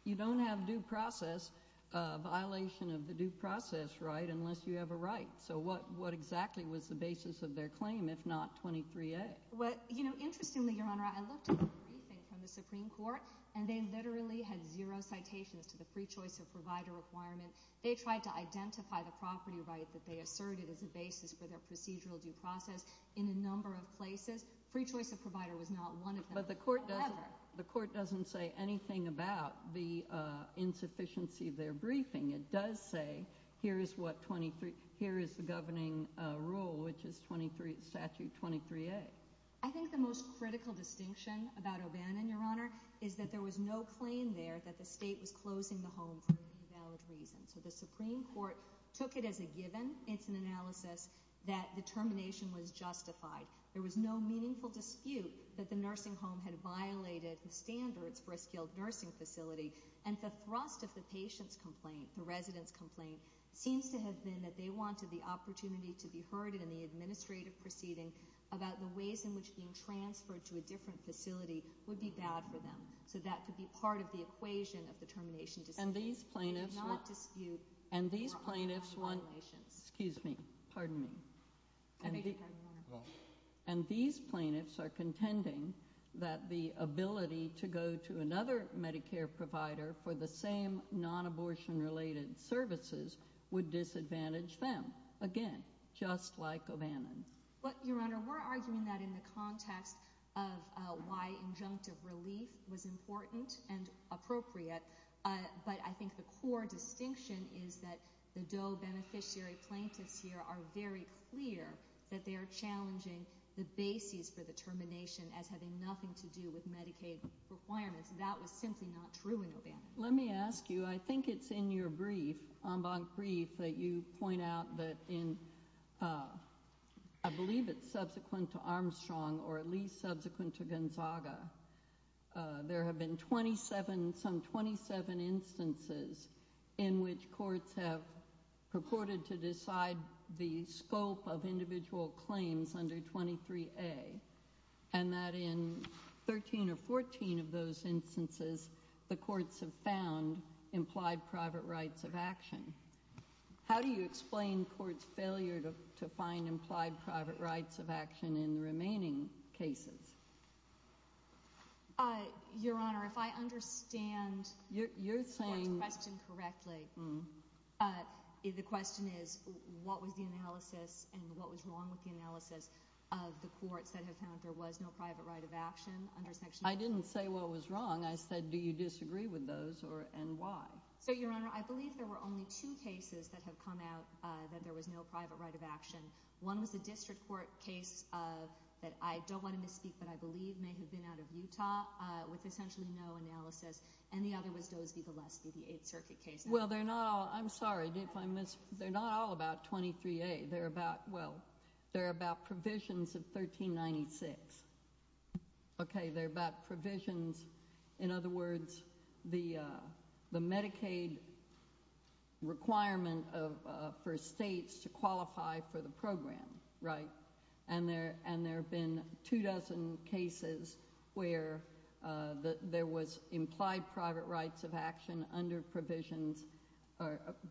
You don't have due process, a violation of the due process right, unless you have a right. So what exactly was the basis of their claim, if not 23A? Interestingly, Your Honor, I looked at the briefing from the Supreme Court, and they literally had zero citations to the free choice of provider requirement. They tried to identify the property right that they asserted as a basis for their procedural due process in a number of places. Free choice of provider was not one of them. But the court doesn't say anything about the insufficiency of their briefing. It does say, here is the governing rule, which is Statute 23A. I think the most critical distinction about O'Bannon, Your Honor, is that there was no claim there that the state was closing the home for invalid reasons. The Supreme Court took it as a given. It's an analysis that the termination was justified. There was no meaningful dispute that the nursing home had violated the standards for a skilled nursing facility. And the thrust of the patient's complaint, the resident's complaint, seems to have been that they wanted the opportunity to be heard in the administrative proceeding about the ways in which being transferred to a different facility would be bad for them. So that could be part of the equation of the termination dispute. And these plaintiffs were— They did not dispute— And these plaintiffs were— —their own violations. Excuse me. Pardon me. I beg your pardon, Your Honor. And these plaintiffs are contending that the ability to go to another Medicare provider for the same non-abortion-related services would disadvantage them. Again, just like O'Bannon. Your Honor, we're arguing that in the context of why injunctive relief was important and appropriate. But I think the core distinction is that the DOE beneficiary plaintiffs here are very clear that they are challenging the basis for the termination as having nothing to do with Medicaid requirements. That was simply not true in O'Bannon. Let me ask you. I think it's in your brief, en banc brief, that you point out that in— I believe it's subsequent to Armstrong or at least subsequent to Gonzaga. There have been some 27 instances in which courts have purported to decide the scope of individual claims under 23A and that in 13 or 14 of those instances, the courts have found implied private rights of action. How do you explain courts' failure to find implied private rights of action in the remaining cases? Your Honor, if I understand the court's question correctly, the question is what was the analysis and what was wrong with the analysis of the courts that have found there was no private right of action under Section 23A? I didn't say what was wrong. I said do you disagree with those and why? Your Honor, I believe there were only two cases that have come out that there was no private right of action. One was a district court case that I don't want to misspeak, but I believe may have been out of Utah with essentially no analysis, and the other was Dose v. Valesky, the Eighth Circuit case. Well, they're not all—I'm sorry if I miss—they're not all about 23A. They're about—well, they're about provisions of 1396. Okay, they're about provisions. In other words, the Medicaid requirement for states to qualify for the program, right? And there have been two dozen cases where there was implied private rights of action under provisions.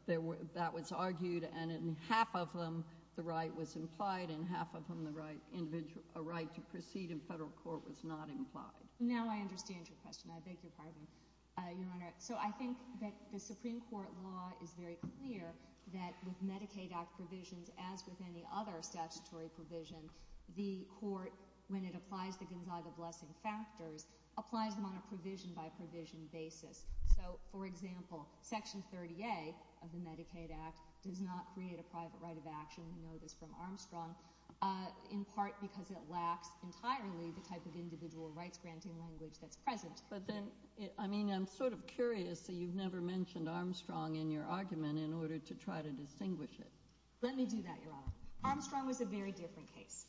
That was argued, and in half of them, the right was implied, and in half of them, the right to proceed in federal court was not implied. Now I understand your question. I beg your pardon, Your Honor. So I think that the Supreme Court law is very clear that with Medicaid Act provisions, as with any other statutory provision, the court, when it applies the Gonzaga Blessing factors, applies them on a provision-by-provision basis. So, for example, Section 30A of the Medicaid Act does not create a private right of action. You know this from Armstrong, in part because it lacks entirely the type of individual rights-granting language that's present. But then—I mean, I'm sort of curious that you've never mentioned Armstrong in your argument in order to try to distinguish it. Let me do that, Your Honor. Armstrong was a very different case.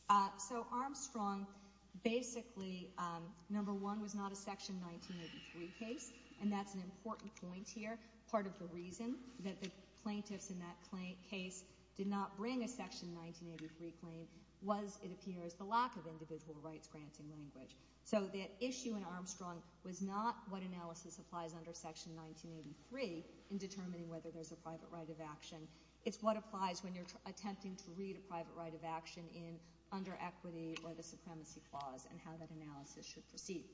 So Armstrong basically, number one, was not a Section 1983 case, and that's an important point here, part of the reason that the plaintiffs in that case did not bring a Section 1983 claim was, it appears, the lack of individual rights-granting language. So the issue in Armstrong was not what analysis applies under Section 1983 in determining whether there's a private right of action. It's what applies when you're attempting to read a private right of action under equity or the supremacy clause and how that analysis should proceed.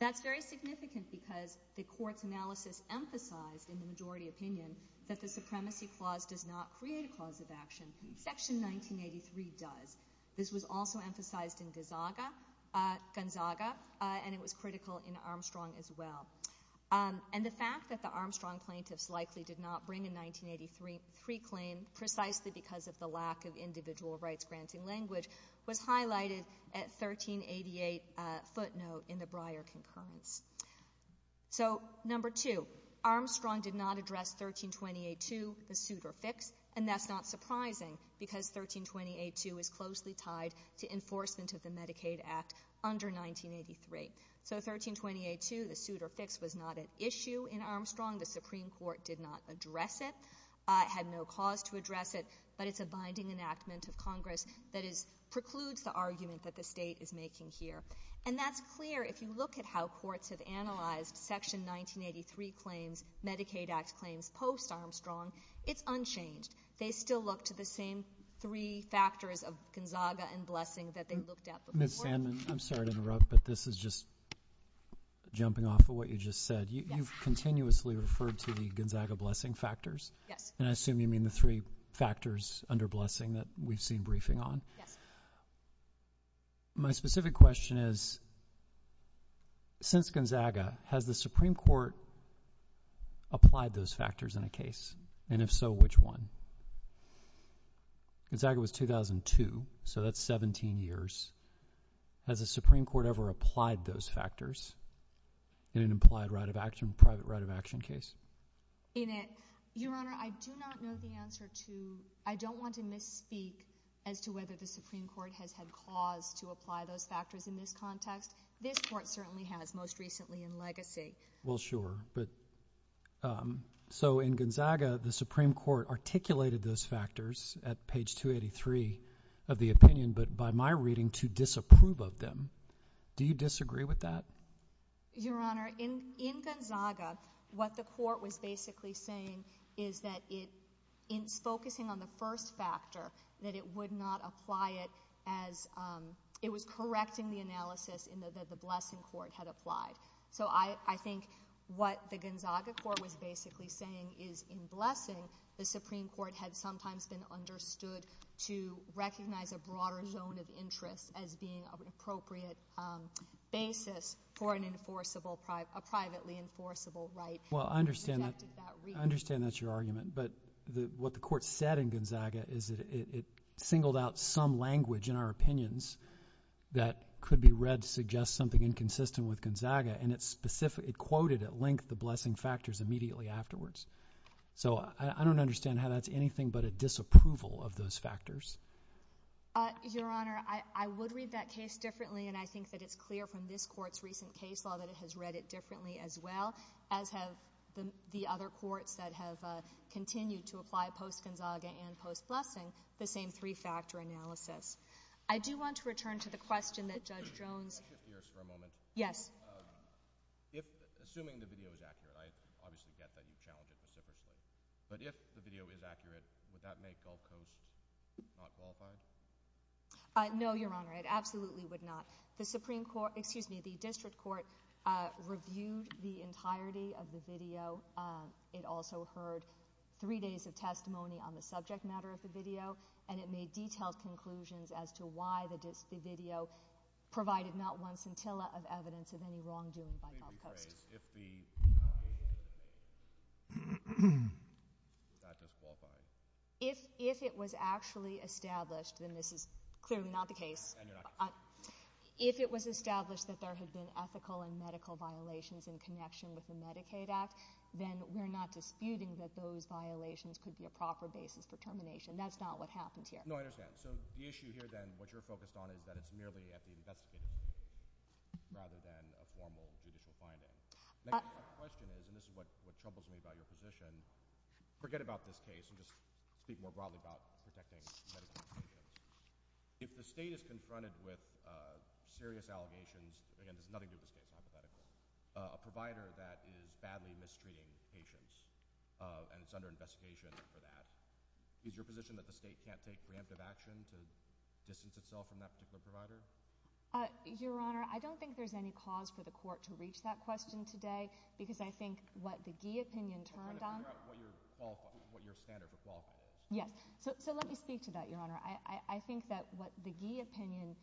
That's very significant because the court's analysis emphasized, in the majority opinion, that the supremacy clause does not create a clause of action. Section 1983 does. This was also emphasized in Gonzaga, and it was critical in Armstrong as well. And the fact that the Armstrong plaintiffs likely did not bring a 1983 claim precisely because of the lack of individual rights-granting language was highlighted at 1388 footnote in the Breyer concurrence. So number two, Armstrong did not address 1328-2, the suit or fix, and that's not surprising because 1328-2 is closely tied to enforcement of the Medicaid Act under 1983. So 1328-2, the suit or fix, was not at issue in Armstrong. The Supreme Court did not address it, had no cause to address it, but it's a binding enactment of Congress that precludes the argument that the state is making here. And that's clear if you look at how courts have analyzed Section 1983 claims, Medicaid Act claims post-Armstrong. It's unchanged. They still look to the same three factors of Gonzaga and blessing that they looked at before. Ms. Sandman, I'm sorry to interrupt, but this is just jumping off of what you just said. You've continuously referred to the Gonzaga blessing factors. Yes. And I assume you mean the three factors under blessing that we've seen briefing on. Yes. My specific question is, since Gonzaga, has the Supreme Court applied those factors in a case? And if so, which one? Gonzaga was 2002, so that's 17 years. Has the Supreme Court ever applied those factors in an implied right of action, private right of action case? Your Honor, I do not know the answer to ñ I don't want to misspeak as to whether the Supreme Court has had cause to apply those factors in this context. This Court certainly has most recently in legacy. Well, sure. So in Gonzaga, the Supreme Court articulated those factors at page 283 of the opinion, but by my reading, to disapprove of them. Do you disagree with that? Your Honor, in Gonzaga, what the Court was basically saying is that it is focusing on the first factor, that it would not apply it as ñ it was correcting the analysis in that the blessing court had applied. So I think what the Gonzaga court was basically saying is in blessing, the Supreme Court had sometimes been understood to recognize a broader zone of interest as being an appropriate basis for an enforceable ñ a privately enforceable right. Well, I understand that. I understand that's your argument. But what the Court said in Gonzaga is that it singled out some language in our opinions that could be read to suggest something inconsistent with Gonzaga, and it quoted at length the blessing factors immediately afterwards. So I don't understand how that's anything but a disapproval of those factors. Your Honor, I would read that case differently, and I think that it's clear from this Court's recent case law that it has read it differently as well, as have the other courts that have continued to apply post-Gonzaga and post-blessing the same three-factor analysis. I do want to return to the question that Judge Jones ñ Can I shift gears for a moment? Yes. Assuming the video is accurate, I obviously get that you challenge it specifically, but if the video is accurate, would that make Gulf Coast not qualified? No, Your Honor. It absolutely would not. The Supreme Court ñ excuse me, the District Court reviewed the entirety of the video. It also heard three days of testimony on the subject matter of the video, and it made detailed conclusions as to why the video provided not one scintilla of evidence of any wrongdoing by Gulf Coast. Can you rephrase if the video is not just qualified? If it was actually established, then this is clearly not the case. And you're not ñ If it was established that there had been ethical and medical violations in connection with the Medicaid Act, then we're not disputing that those violations could be a proper basis for termination. No, I understand. So the issue here, then, what you're focused on is that it's merely an investigation rather than a formal judicial finding. My question is ñ and this is what troubles me about your position ñ forget about this case and just speak more broadly about protecting medical patients. If the State is confronted with serious allegations ñ again, there's nothing to do with the State, hypothetically ñ a provider that is badly mistreating patients and is under investigation for that, is your position that the State can't take preemptive action to distance itself from that particular provider? Your Honor, I don't think there's any cause for the Court to reach that question today because I think what the Gee opinion turned on ñ I'm trying to figure out what your standard for qualifying is. Yes. So let me speak to that, Your Honor. I think that what the Gee opinion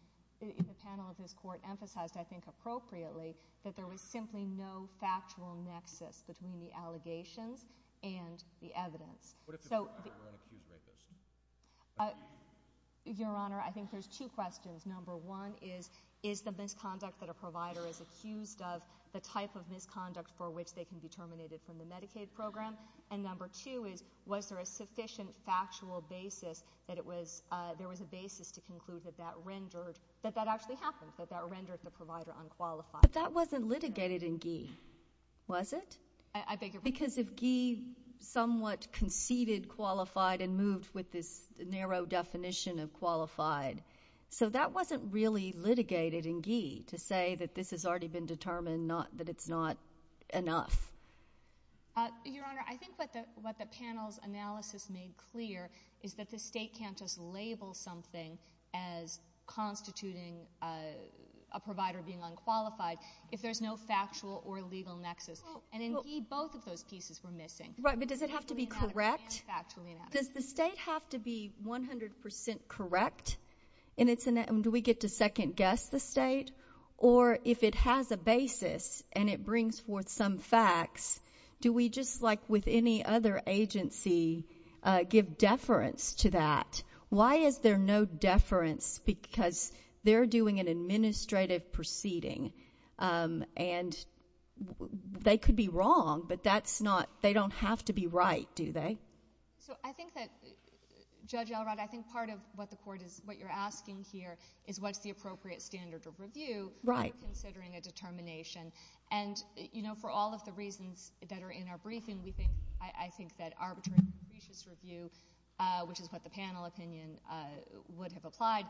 in the panel of this Court emphasized, I think appropriately, that there was simply no factual nexus between the allegations and the evidence. What if the provider were an accused medical student? Your Honor, I think there's two questions. Number one is, is the misconduct that a provider is accused of the type of misconduct for which they can be terminated from the Medicaid program? And number two is, was there a sufficient factual basis that it was ñ there was a basis to conclude that that rendered ñ that that actually happened, that that rendered the provider unqualified? But that wasn't litigated in Gee, was it? I beg your pardon? Because if Gee somewhat conceded qualified and moved with this narrow definition of qualified. So that wasn't really litigated in Gee to say that this has already been determined, that it's not enough. Your Honor, I think what the panel's analysis made clear is that the State can't just label something as constituting a provider being unqualified if there's no factual or legal nexus. And in Gee, both of those pieces were missing. Right, but does it have to be correct? Does the State have to be 100% correct? And do we get to second-guess the State? Or if it has a basis and it brings forth some facts, do we just like with any other agency give deference to that? Why is there no deference? Because they're doing an administrative proceeding and they could be wrong, but they don't have to be right, do they? So I think that, Judge Elrod, I think part of what you're asking here is what's the appropriate standard of review when considering a determination. And for all of the reasons that are in our briefing, I think that arbitrary and capricious review, which is what the panel opinion would have applied,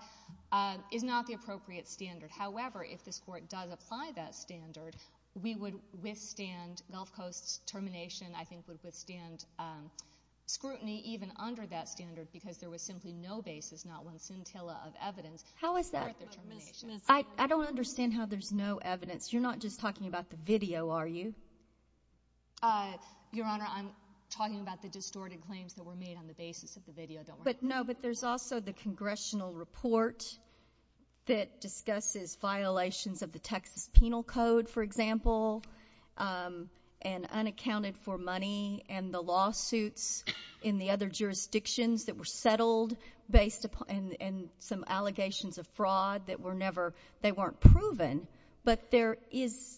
is not the appropriate standard. However, if this Court does apply that standard, we would withstand Gulf Coast's termination, I think would withstand scrutiny even under that standard because there was simply no basis, not one scintilla of evidence. How is that? I don't understand how there's no evidence. You're not just talking about the video, are you? Your Honor, I'm talking about the distorted claims that were made on the basis of the video. No, but there's also the congressional report that discusses violations of the Texas Penal Code, for example, and unaccounted for money, and the lawsuits in the other jurisdictions that were settled and some allegations of fraud that were never... They weren't proven, but there is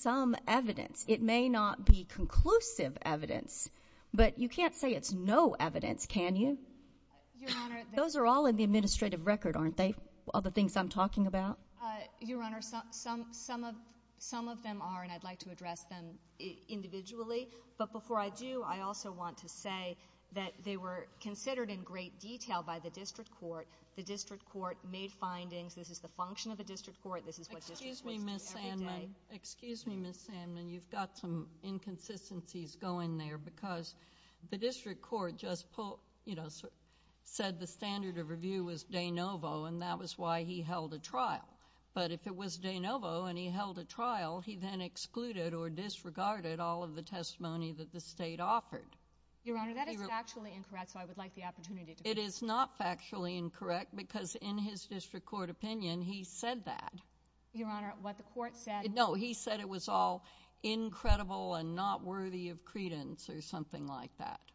some evidence. It may not be conclusive evidence, but you can't say it's no evidence, can you? Your Honor... Those are all in the administrative record, aren't they, all the things I'm talking about? Your Honor, some of them are, and I'd like to address them individually, but before I do, I also want to say that they were considered in great detail by the district court. The district court made findings. This is the function of the district court. Excuse me, Ms. Sandman. Excuse me, Ms. Sandman, you've got some inconsistencies going there because the district court just said the standard of review was de novo and that was why he held a trial, but if it was de novo and he held a trial, he then excluded or disregarded all of the testimony that the state offered. Your Honor, that is factually incorrect, so I would like the opportunity to... It is not factually incorrect because in his district court opinion, he said that. Your Honor, what the court said...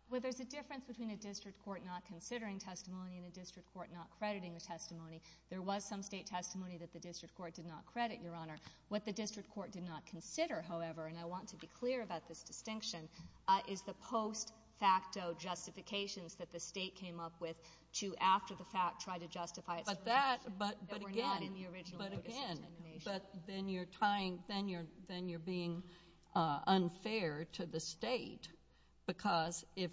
Well, there's a difference between a district court not considering testimony and a district court not crediting the testimony. There was some state testimony that the district court did not credit, Your Honor. What the district court did not consider, however, and I want to be clear about this distinction, is the post facto justifications that the state came up with to, after the fact, try to justify... But that... But again... ...that were not in the original notice of determination. But then you're tying... Then you're being unfair to the state because if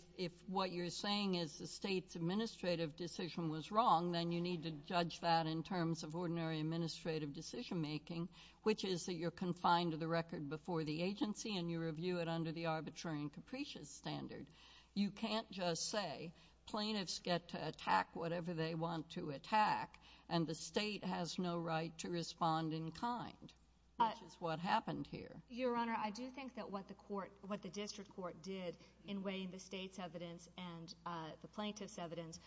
what you're saying is the state's administrative decision was wrong, then you need to judge that in terms of ordinary administrative decision making, which is that you're confined to the record before the agency and you review it under the arbitrary and capricious standard. You can't just say, plaintiffs get to attack whatever they want to attack and the state has no right to respond in kind, which is what happened here. Your Honor, I do think that what the court... what the district court did in weighing the state's evidence and the plaintiff's evidence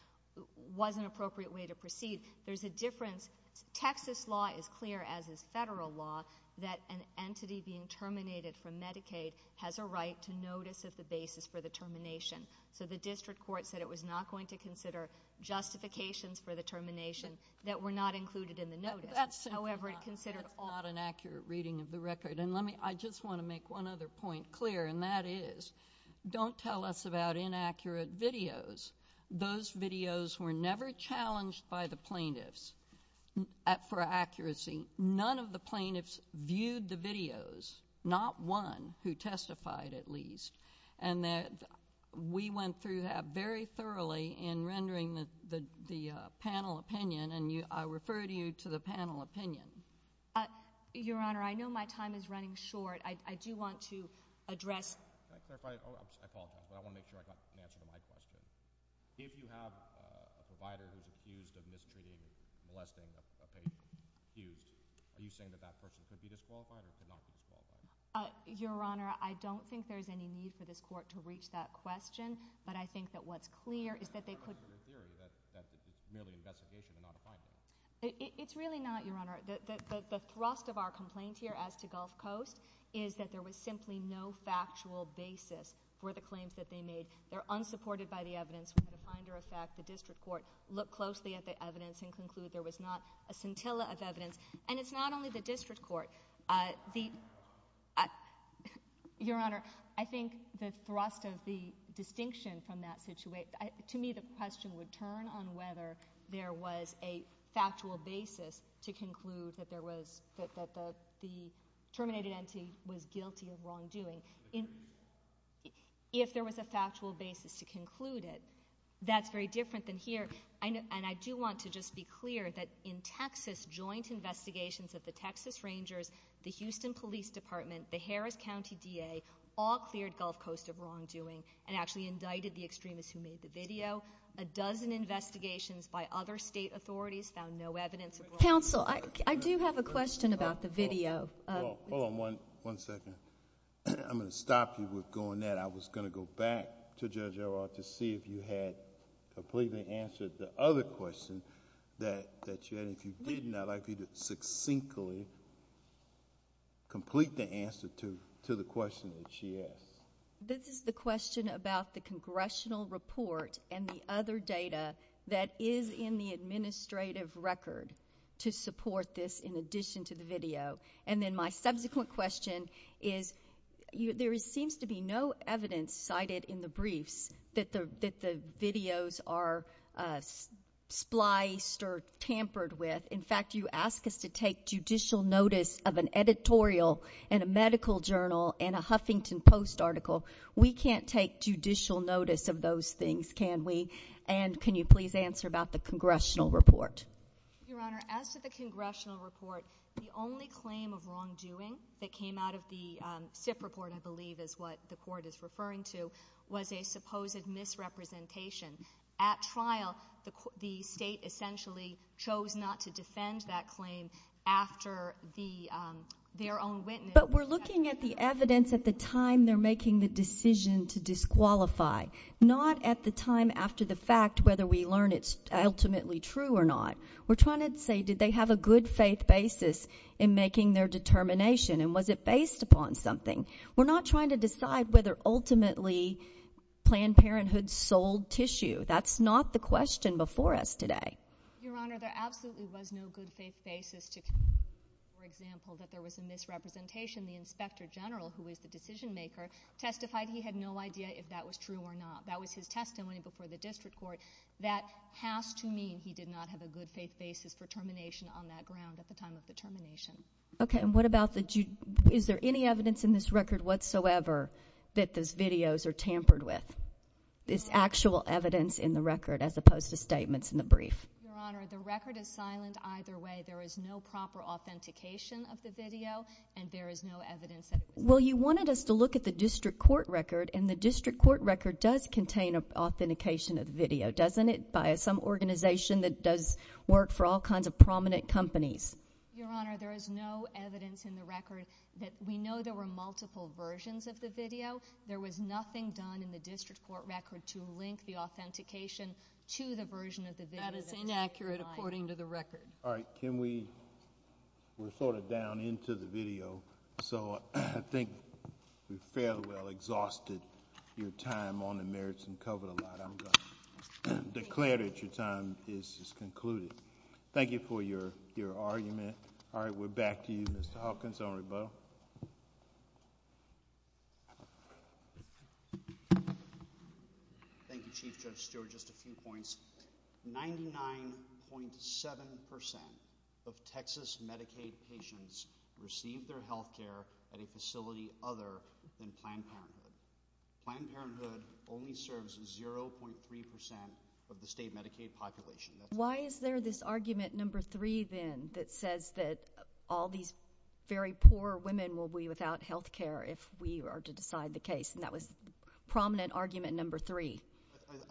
was an appropriate way to proceed. There's a difference. Texas law is clear, as is federal law, that an entity being terminated from Medicaid has a right to notice of the basis for the termination. So the district court said it was not going to consider justifications for the termination that were not included in the notice. However, it considered all... That's not an accurate reading of the record. And I just want to make one other point clear, and that is don't tell us about inaccurate videos. Those videos were never challenged by the plaintiffs for accuracy. None of the plaintiffs viewed the videos, not one who testified at least, and we went through that very thoroughly in rendering the panel opinion, and I refer to you to the panel opinion. Your Honor, I know my time is running short. I do want to address... Can I clarify? I apologize, but I want to make sure I got an answer to my question. If you have a provider who's accused of mistreating, molesting a patient, accused, are you saying that that person could be disqualified or could not be disqualified? Your Honor, I don't think there's any need for this court to reach that question, but I think that what's clear is that they could... I'm not sure they're here. That's merely an investigation. They're not a finder. It's really not, Your Honor. The thrust of our complaint here as to Gulf Coast is that there was simply no factual basis for the claims that they made. They're unsupported by the evidence. We had a finder of fact. The district court looked closely at the evidence and concluded there was not a scintilla of evidence. And it's not only the district court. The... Your Honor, I think the thrust of the distinction from that situation... To me, the question would turn on whether there was a factual basis to conclude that there was... that the terminated entity was guilty of wrongdoing. If there was a factual basis to conclude it, that's very different than here. And I do want to just be clear that in Texas, joint investigations of the Texas Rangers, the Houston Police Department, the Harris County D.A., all cleared Gulf Coast of wrongdoing and actually indicted the extremists who made the video. A dozen investigations by other state authorities found no evidence of wrongdoing. Counsel, I do have a question about the video. Hold on one second. I'm going to stop you with going there. I was going to go back to Judge O'Rourke to see if you had completely answered the other question that you had, and if you didn't, I'd like for you to succinctly complete the answer to the question that she asked. This is the question about the congressional report and the other data that is in the administrative record to support this in addition to the video. And then my subsequent question is, there seems to be no evidence cited in the briefs that the videos are spliced or tampered with. In fact, you ask us to take judicial notice of an editorial in a medical journal in a Huffington Post article. We can't take judicial notice of those things, can we? And can you please answer about the congressional report? Your Honor, as to the congressional report, the only claim of wrongdoing that came out of the SIP report, I believe is what the Court is referring to, was a supposed misrepresentation. At trial, the state essentially chose not to defend that claim after their own witness... But we're looking at the evidence at the time they're making the decision to disqualify, not at the time after the fact, whether we learn it's ultimately true or not. We're trying to say, did they have a good-faith basis in making their determination, and was it based upon something? We're not trying to decide whether ultimately Planned Parenthood sold tissue. That's not the question before us today. Your Honor, there absolutely was no good-faith basis to... For example, that there was a misrepresentation. The inspector general, who is the decision-maker, testified he had no idea if that was true or not. That was his testimony before the district court. That has to mean he did not have a good-faith basis for termination on that ground at the time of the termination. OK, and what about the... Is there any evidence in this record whatsoever that those videos are tampered with? Is actual evidence in the record as opposed to statements in the brief? Your Honor, the record is silent either way. There is no proper authentication of the video, and there is no evidence that... Well, you wanted us to look at the district court record, and the district court record does contain authentication of the video, doesn't it, by some organization that does work for all kinds of prominent companies? Your Honor, there is no evidence in the record that we know there were multiple versions of the video. There was nothing done in the district court record to link the authentication to the version of the video... That is inaccurate according to the record. All right, can we... We're sort of down into the video, so I think we've fairly well exhausted your time on the merits and cover the lie. I'm going to declare that your time is concluded. Thank you for your argument. All right, we're back to you, Mr. Hawkins. Senator Boe. Thank you, Chief Judge Stewart. Just a few points. 99.7% of Texas Medicaid patients receive their health care at a facility other than Planned Parenthood. Planned Parenthood only serves 0.3% Why is there this argument number three, then, that says that all these very poor women will be without health care if we are to decide the case? And that was prominent argument number three.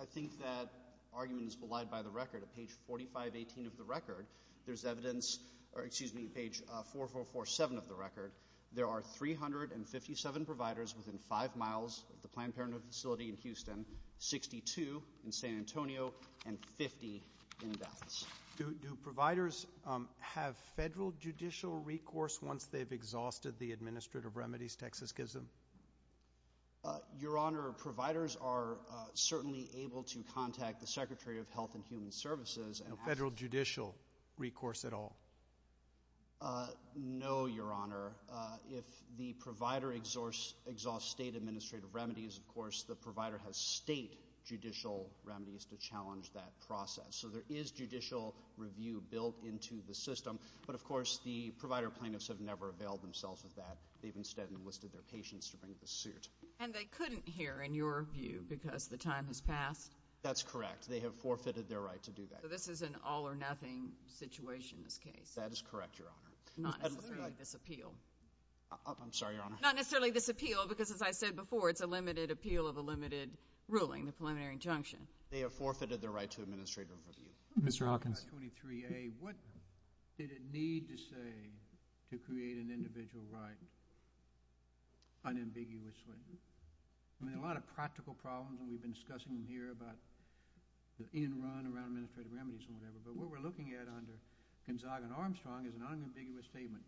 I think that argument is belied by the record. At page 4518 of the record, there's evidence... Excuse me, page 4447 of the record. There are 357 providers within 5 miles of the Planned Parenthood facility in Houston, 62 in San Antonio, and 50 in Dallas. Do providers have federal judicial recourse once they've exhausted the administrative remedies Texas gives them? Your Honor, providers are certainly able to contact the Secretary of Health and Human Services... No federal judicial recourse at all? No, Your Honor. If the provider exhausts state administrative remedies, of course, the provider has state judicial remedies to challenge that process. So there is judicial review built into the system, but, of course, the provider plaintiffs have never availed themselves of that. They've instead enlisted their patients to bring the suit. And they couldn't here, in your view, because the time has passed? That's correct. They have forfeited their right to do that. So this is an all-or-nothing situation, this case? That is correct, Your Honor. Not necessarily this appeal? I'm sorry, Your Honor. Not necessarily this appeal, because, as I said before, it's a limited appeal of a limited ruling, the preliminary injunction. They have forfeited their right to administrative review. Mr. Hawkins. 23A, what did it need to say to create an individual right unambiguously? I mean, a lot of practical problems, and we've been discussing them here about the in-run around administrative remedies and whatever, but what we're looking at under Gonzaga and Armstrong is an unambiguous statement.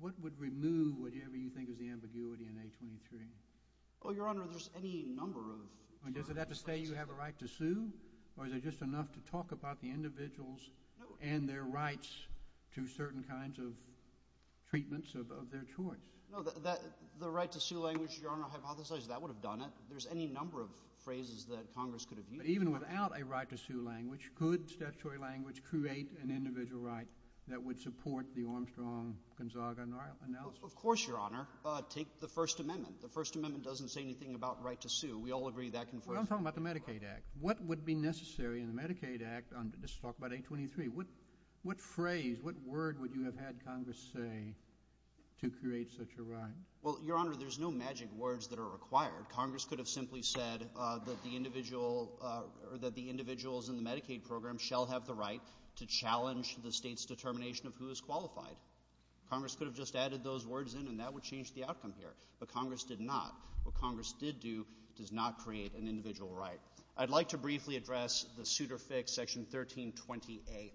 What would remove whatever you think is the ambiguity in A23? Oh, Your Honor, there's any number of... Does it have to say you have a right to sue, or is it just enough to talk about the individuals and their rights to certain kinds of treatments of their choice? No, the right to sue language, Your Honor, I hypothesize that would have done it. There's any number of phrases that Congress could have used. But even without a right to sue language, could statutory language create an individual right that would support the Armstrong-Gonzaga analysis? Of course, Your Honor. Take the First Amendment. The First Amendment doesn't say anything about right to sue. We all agree that can... Well, I'm talking about the Medicaid Act. What would be necessary in the Medicaid Act, let's talk about A23, what phrase, what word would you have had Congress say to create such a right? Well, Your Honor, there's no magic words that are required. Congress could have simply said that the individual... or that the individuals in the Medicaid program shall have the right to challenge the state's determination of who is qualified. Congress could have just added those words in and that would change the outcome here. But Congress did not. What Congress did do does not create an individual right. I'd like to briefly address the Suitor Fix, Section 1328.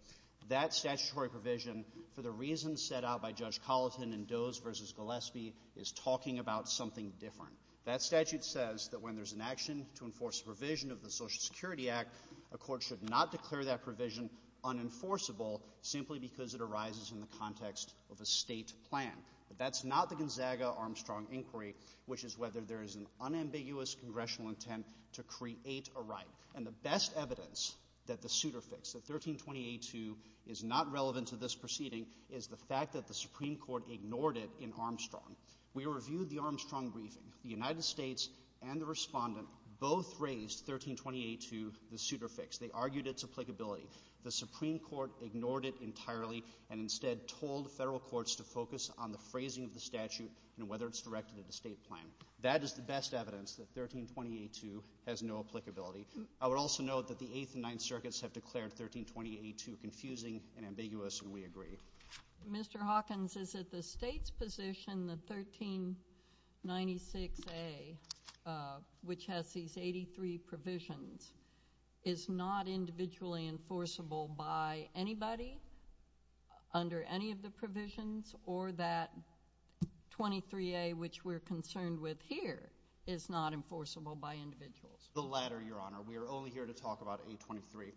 That statutory provision, for the reasons set out by Judge Colleton in Does v. Gillespie, is talking about something different. That statute says that when there's an action to enforce a provision of the Social Security Act, a court should not declare that provision unenforceable simply because it arises in the context of a state plan. But that's not the Gonzaga-Armstrong inquiry, which is whether there is an unambiguous congressional intent to create a right. And the best evidence that the Suitor Fix, the 1328-2, is not relevant to this proceeding is the fact that the Supreme Court ignored it in Armstrong. We reviewed the Armstrong briefing. The United States and the Respondent both raised 1328-2, the Suitor Fix. They argued its applicability. The Supreme Court ignored it entirely and instead told federal courts to focus on the phrasing of the statute and whether it's directed at a state plan. That is the best evidence that 1328-2 has no applicability. I would also note that the Eighth and Ninth Circuits have declared 1328-2 confusing and ambiguous, and we agree. Mr. Hawkins, is it the state's position that 1396-A, which has these 83 provisions, is not individually enforceable by anybody under any of the provisions, or that 23-A, which we're concerned with here, is not enforceable by individuals? The latter, Your Honor. We are only here to talk about 823.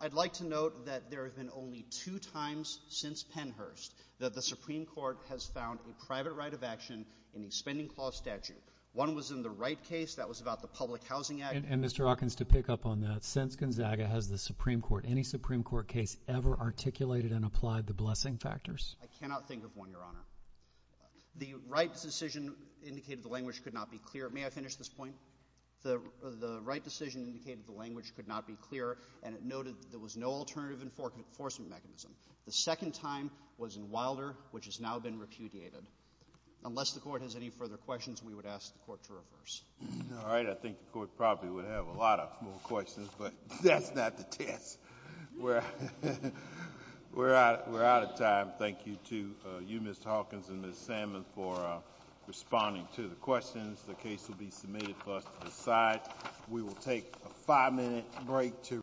I'd like to note that there have been only two times since Pennhurst that the Supreme Court has found a private right of action in the spending clause statute. One was in the Wright case. That was about the Public Housing Act. And Mr. Hawkins, to pick up on that, since Gonzaga has the Supreme Court, any Supreme Court case ever articulated and applied the blessing factors? I cannot think of one, Your Honor. The Wright decision indicated the language could not be clear. May I finish this point? The Wright decision indicated the language could not be clear, and it noted there was no alternative enforcement mechanism. The second time was in Wilder, which has now been repudiated. Unless the Court has any further questions, we would ask the Court to reverse. All right. I think the Court probably would have a lot more questions, but that's not the test. We're out of time. Thank you to you, Ms. Hawkins, and Ms. Salmon for responding to the questions. The case will be submitted for us to decide. We will take a five-minute break to respond.